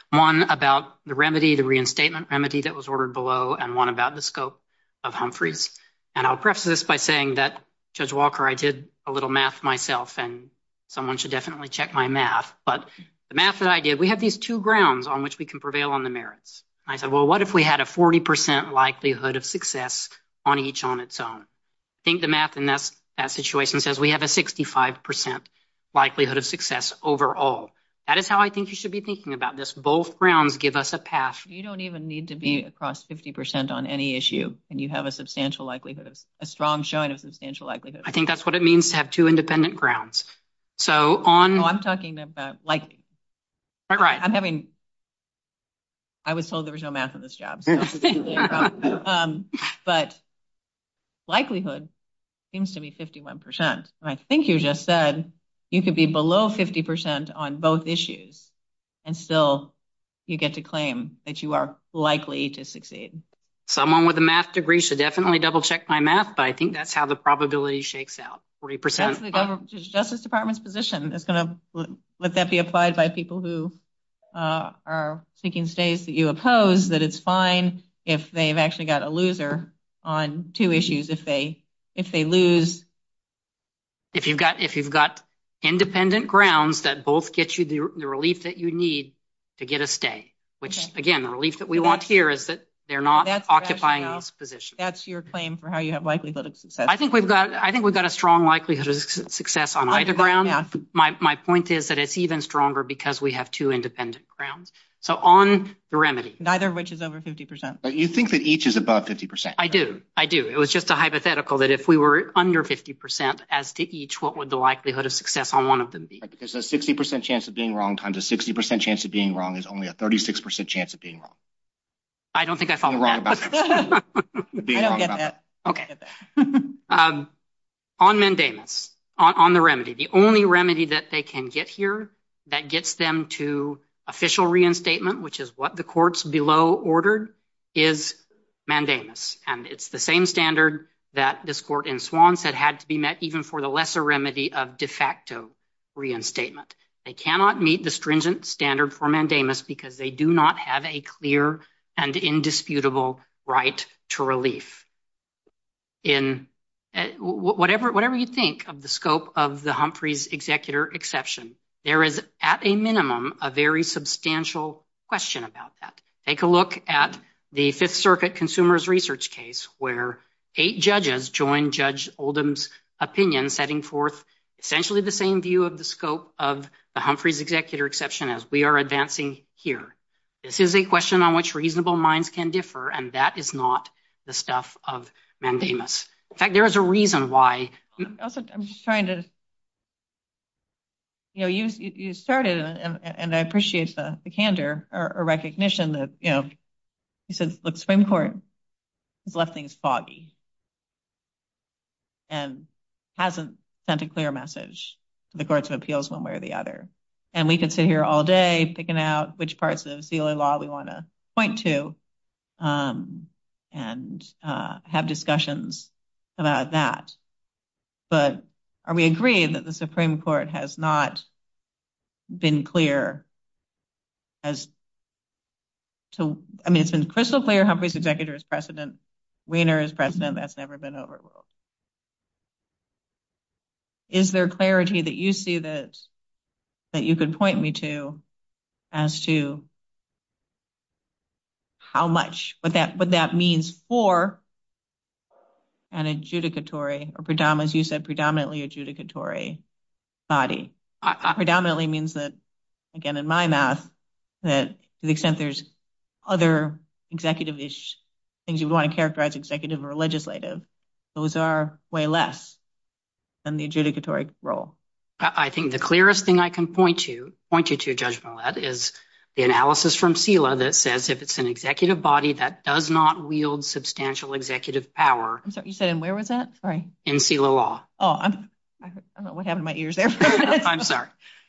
One about the remedy, the reinstatement remedy that was ordered below, and one about the scope of Humphrey's. And I'll preface this by saying that, Judge Walker, I did a little math myself, and someone should definitely check my math. But the math that I did, we have these two grounds on which we can prevail on the merits. I said, well, what if we had a 40% likelihood of success on each on its own? I think the math in that situation says we have a 65% likelihood of success overall. That is how I think you should be thinking about this. Both grounds give us a path. You don't even need to be across 50% on any issue, and you have a substantial likelihood, a strong showing of substantial likelihood. I think that's what it means to have two independent grounds. So on... No, I'm talking about likelihood. All right. I'm having... I was told there was no math in this job. But likelihood seems to be 51%. I think you just said you could be below 50% on both issues, and still you get to claim that you are likely to succeed. Someone with a math degree should definitely double check my math, but I think that's how the probability shakes out, 40%. That's the Justice Department's position. Would that be applied by people who are seeking stays that you oppose, that it's fine if they've actually got a loser on two issues, if they lose? If you've got independent grounds that both get you the relief that you need to get a stay, which, again, the relief that we want here is that they're not occupying those positions. That's your claim for how you have likelihood of success. I think we've got a strong likelihood of success on either ground. My point is that it's even stronger because we have two independent grounds. So on the remedy... Neither of which is over 50%. You think that each is about 50%. I do. I do. It was just a hypothetical that if we were under 50% as to each, what would the likelihood of success on one of them be? There's a 60% chance of being wrong times a 60% chance of being wrong is only a 36% chance of being wrong. I don't think I followed that. I don't get that. On mandamus, on the remedy, the only remedy that they can get here that gets them to official reinstatement, which is what the courts below ordered, is mandamus. And it's the same standard that this court in Swanson had to be met even for the lesser remedy of de facto reinstatement. They cannot meet the stringent standard for mandamus because they do not have a clear and indisputable right to relief. In whatever you think of the scope of the Humphrey's executor exception, there is at a minimum, a very substantial question about that. Take a look at the Fifth Circuit consumer's research case, where eight judges joined Judge Oldham's opinion, setting forth essentially the same view of the scope of the Humphrey's executor exception as we are advancing here. This is a question on which reasonable minds can differ. And that is not the stuff of mandamus. In fact, there is a reason why. I'm just trying to, you know, you started and I appreciate the candor or recognition that, you know, the Supreme Court has left things foggy and hasn't sent a clear message. The courts of appeals, one way or the other. And we could sit here all day, picking out which parts of the sealer law we want to point to and have discussions about that. But are we agreed that the Supreme Court has not been clear as to, I mean, it's crystal clear Humphrey's executor is precedent. Weiner is precedent. That's never been overruled. Is there clarity that you see that you could point me to as to how much, what that means for an adjudicatory or, as you said, predominantly adjudicatory body? Predominantly means that, again, in my math, that to the extent there's other executive-ish things you want to characterize as executive or legislative, those are way less than the adjudicatory role. I think the clearest thing I can point to, point you to, Judge Follett, is the analysis from SELA that says if it's an executive body that does not wield substantial executive power in SELA law.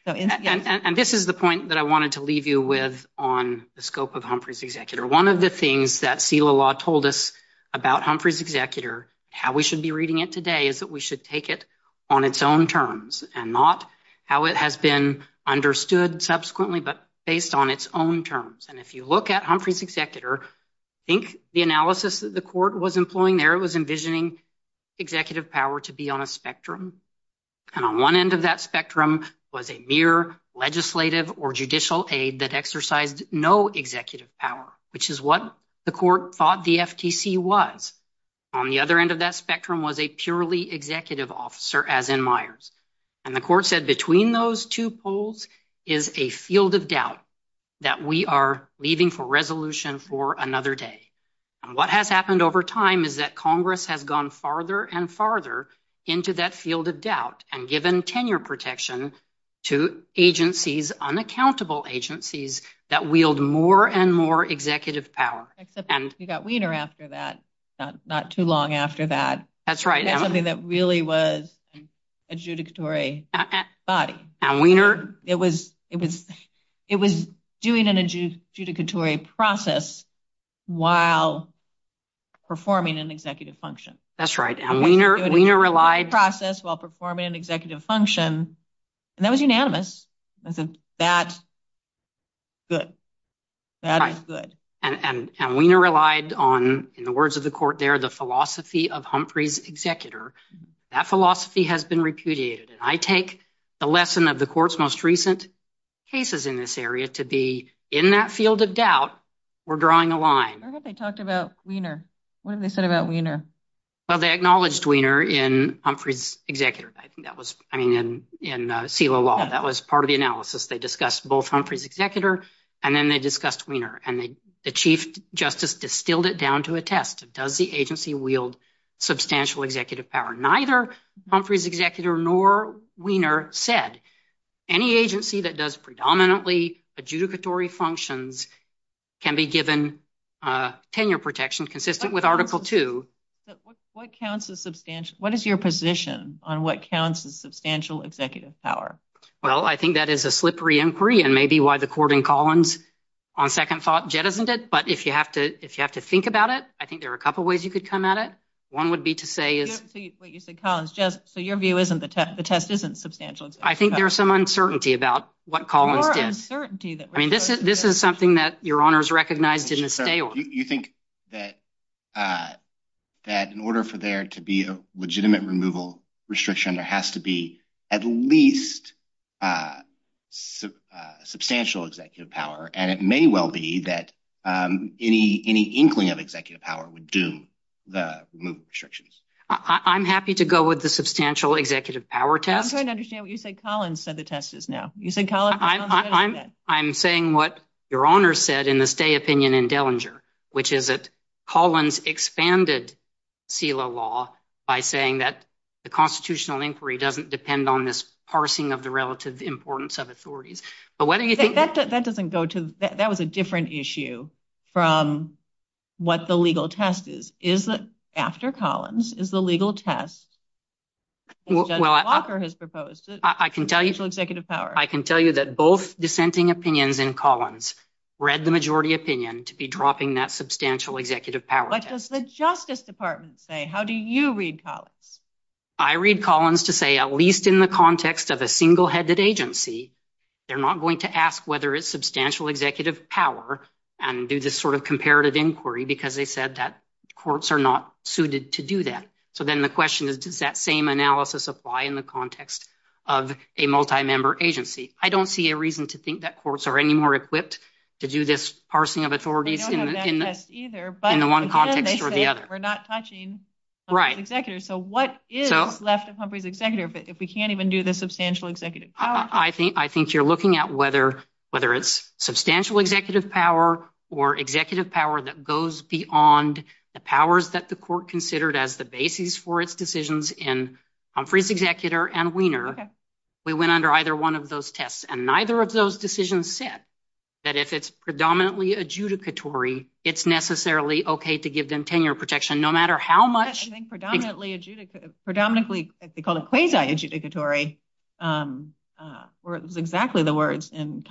And this is the point that I wanted to leave you with on the scope of Humphrey's executor. One of the things that SELA law told us about Humphrey's executor, how we should be reading it today, is that we should take it on its own terms and not how it has been understood subsequently, but based on its own terms. And if you look at Humphrey's executor, I think the analysis that the court was employing there was envisioning executive power to be on a spectrum. And on one end of that spectrum was a mere legislative or judicial aid that exercised no executive power, which is what the court thought the FTC was. On the other end of that spectrum was a purely executive officer, as in Myers. The court said between those two poles is a field of doubt that we are leaving for resolution for another day. What has happened over time is that Congress has gone farther and farther into that field of doubt and given tenure protection to agencies, unaccountable agencies, that wield more and more executive power. You got Weiner after that, not too long after that. That's right. That really was adjudicatory body. It was doing an adjudicatory process while performing an executive function. That's right. And Weiner relied... Process while performing an executive function, and that was unanimous. That's good. That is good. And Weiner relied on, in the words of the court there, the philosophy of Humphrey's executor. That philosophy has been repudiated. I take the lesson of the court's most recent cases in this area to be in that field of doubt, we're drawing a line. Where have they talked about Weiner? What have they said about Weiner? Well, they acknowledged Weiner in Humphrey's executor. I think that was... I mean, in CELA law, that was part of the analysis. They discussed both Humphrey's executor, and then they discussed Weiner, and the chief justice distilled it down to a test. Does the agency wield substantial executive power? Neither Humphrey's executor nor Weiner said. Any agency that does predominantly adjudicatory functions can be given tenure protections consistent with Article II. What counts as substantial? What is your position on what counts as substantial executive power? Well, I think that is a slippery inquiry, and maybe why the court in Collins on second thought jettisoned it, but if you have to think about it, I think there are a couple of ways you could come at it. One would be to say... I didn't see what you said, Collins. Just so your view isn't the test. The test isn't substantial. I think there's some uncertainty about what Collins did. I mean, this is something that your honors recognized didn't stay on. You think that in order for there to be a legitimate removal restriction, there has to be at least substantial executive power, and it may well be that any inkling of executive power would do the restrictions. I'm happy to go with the substantial executive power test. I'm trying to understand what you said. Collins said the test is no. I'm saying what your honors said in the stay opinion in Dellinger, which is that Collins expanded CELA law by saying that the constitutional inquiry doesn't depend on this parsing of the relative importance of authorities. But what do you think... That doesn't go to... That was a different issue from what the legal test is. Is that after Collins is the legal test that Walker has proposed. I can tell you... Substantial executive power. I can tell you that both dissenting opinions in Collins read the majority opinion to be dropping that substantial executive power test. What does the Justice Department say? How do you read Collins? I read Collins to say at least in the context of a single headed agency, they're not going to ask whether it's substantial executive power and do this sort of comparative inquiry, because they said that courts are not suited to do that. So then the question is, does that same analysis apply in the context of a multi-member agency? I don't see a reason to think that courts are any more equipped to do this parsing of authorities in the one context or the other. We're not touching the executor. So what is left of Humphrey's executor if we can't even do the substantial executive power test? I think you're looking at whether it's substantial executive power or executive power that goes beyond the powers that the court considered as the basis for its decisions in Humphrey's executor and Weiner. We went under either one of those tests and neither of those decisions said that if it's predominantly adjudicatory, it's necessarily okay to give them tenure protection, no matter how much... I think predominantly adjudicatory, predominantly as they call it quasi-adjudicatory were exactly the words in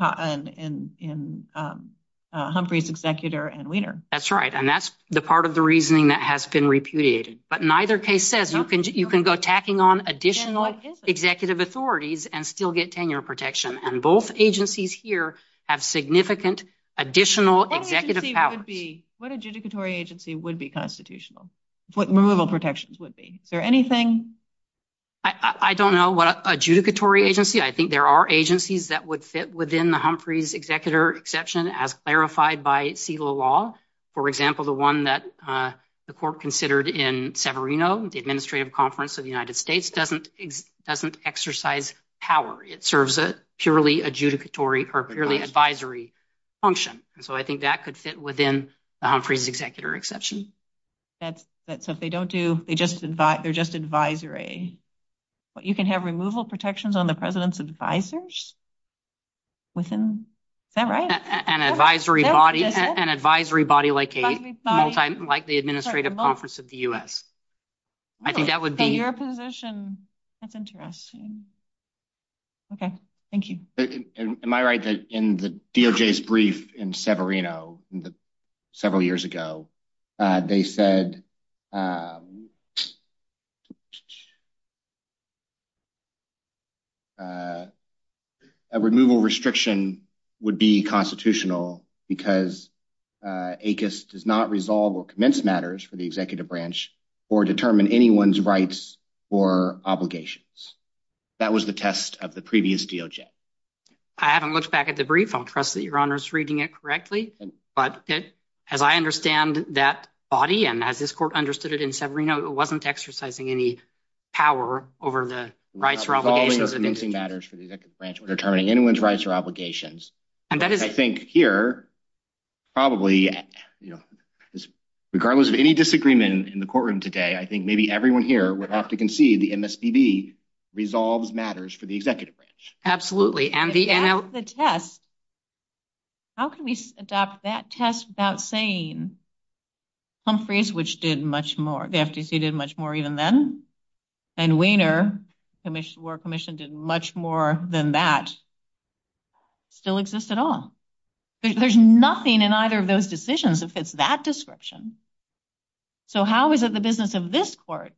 Humphrey's executor and Weiner. That's right. And that's the part of the reasoning that has been repudiated. But neither case says you can go tacking on additional executive authorities and still get tenure protection. And both agencies here have significant additional executive power. What adjudicatory agency would be constitutional? What removal protections would be? Is there anything? I don't know what adjudicatory agency. I think there are agencies that would fit within the Humphrey's executor exception as clarified by CELA law. For example, the one that the court considered in Severino, the Administrative Conference of the United States doesn't exercise power. It serves a purely adjudicatory or purely advisory function. So I think that could fit within the Humphrey's executor exception. So if they don't do, they're just advisory. But you can have removal protections on the president's advisors? Within that right? An advisory body like the Administrative Conference of the U.S. I think that would be. In your position, that's interesting. Okay, thank you. Am I right that in the DOJ's brief in Severino several years ago, they said a removal restriction would be constitutional because ACUS does not resolve or commence matters for the executive branch or determine anyone's rights or obligations. That was the test of the previous DOJ. I haven't looked back at the brief. I'll trust that your honor is reading it correctly. But as I understand that body and that this court understood it in Severino, it wasn't exercising any power over the rights or obligations. Resolving matters for the executive branch or determining anyone's rights or obligations. I think here, probably, you know, regardless of any disagreement in the courtroom today, I think maybe everyone here would have to concede the MSBB resolves matters for the executive branch. Absolutely. The test. How can we adopt that test without saying Humphreys, which did much more. The FTC did much more even then. And Wiener, War Commission, did much more than that. Still exists at all. There's nothing in either of those decisions that fits that description. So how is it the business of this court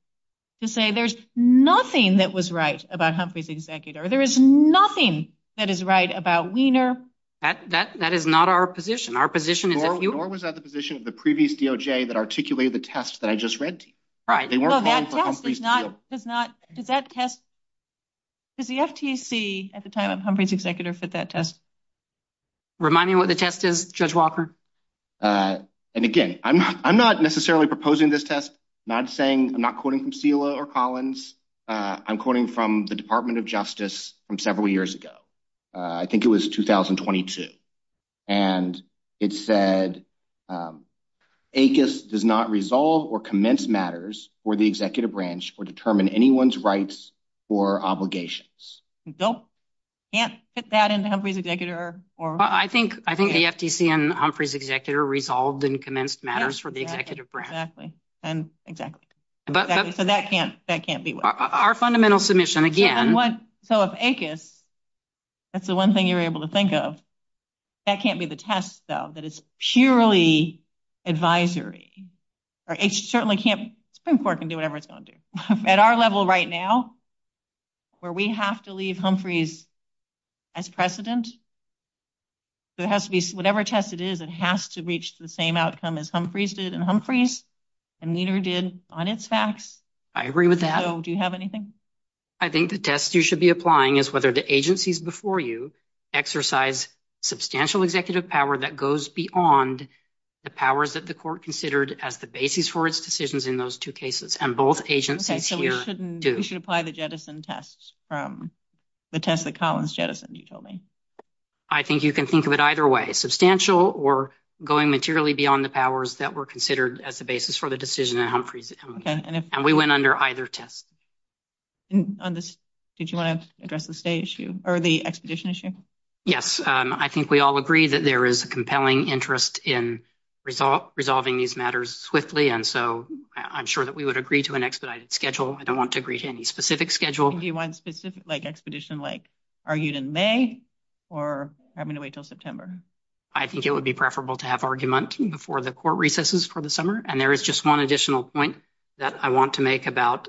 to say there's nothing that was right about Humphreys' executor? There is nothing that is right about Wiener. That is not our position. Our position. Nor was that the position of the previous DOJ that articulated the test that I just read to you. They weren't voting for Humphreys' executor. Does that test, does the FTC at the time of Humphreys' executor fit that test? Remind me what the test is, Judge Walker. And again, I'm not necessarily proposing this test. Not saying, I'm not quoting from Steele or Collins. I'm quoting from the Department of Justice from several years ago. I think it was 2022. And it said, ACUS does not resolve or commence matters for the executive branch or determine anyone's rights or obligations. Nope. Can't fit that into Humphreys' executor. I think the FTC and Humphreys' executor resolved and commenced matters for the executive branch. Exactly. Exactly. So, that can't be what? Our fundamental submission, again. So, if ACUS, that's the one thing you're able to think of. That can't be the test, though. That is purely advisory. Or it certainly can't, Supreme Court can do whatever it's going to do. At our level right now, where we have to leave Humphreys as precedent. So, it has to be, whatever test it is, it has to reach the same outcome as Humphreys did and neither did on its facts. I agree with that. So, do you have anything? I think the test you should be applying is whether the agencies before you exercise substantial executive power that goes beyond the powers that the court considered as the basis for its decisions in those two cases. And both agencies here do. We should apply the jettison test, the test that Collins jettisoned, you told me. I think you can think of it either way. Or going materially beyond the powers that were considered as the basis for the decision. And we went under either test. Did you want to address the stay issue? Or the expedition issue? Yes. I think we all agree that there is a compelling interest in resolving these matters swiftly. And so, I'm sure that we would agree to an expedited schedule. I don't want to agree to any specific schedule. Do you want a specific, like, expedition, like, argued in May? Or are we going to wait until September? I think it would be preferable to have argument before the court recesses for the summer. And there is just one additional point that I want to make about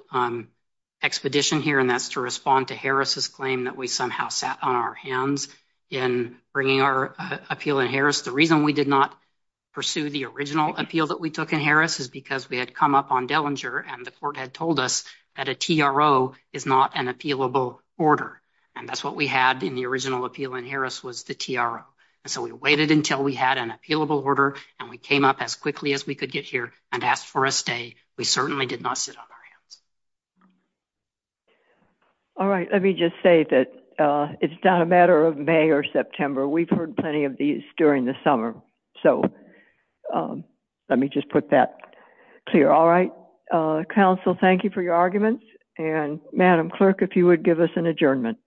expedition here. And that's to respond to Harris' claim that we somehow sat on our hands in bringing our appeal in Harris. The reason we did not pursue the original appeal that we took in Harris is because we had come up on Dellinger and the court had told us that a TRO is not an appealable order. And that's what we had in the original appeal in Harris was the TRO. And so, we waited until we had an appealable order and we came up as quickly as we could get here and asked for a stay. We certainly did not sit on our hands. All right. Let me just say that it's not a matter of May or September. We've heard plenty of these during the summer. So, let me just put that clear. All right. Counsel, thank you for your arguments. And Madam Clerk, if you would give us an adjournment.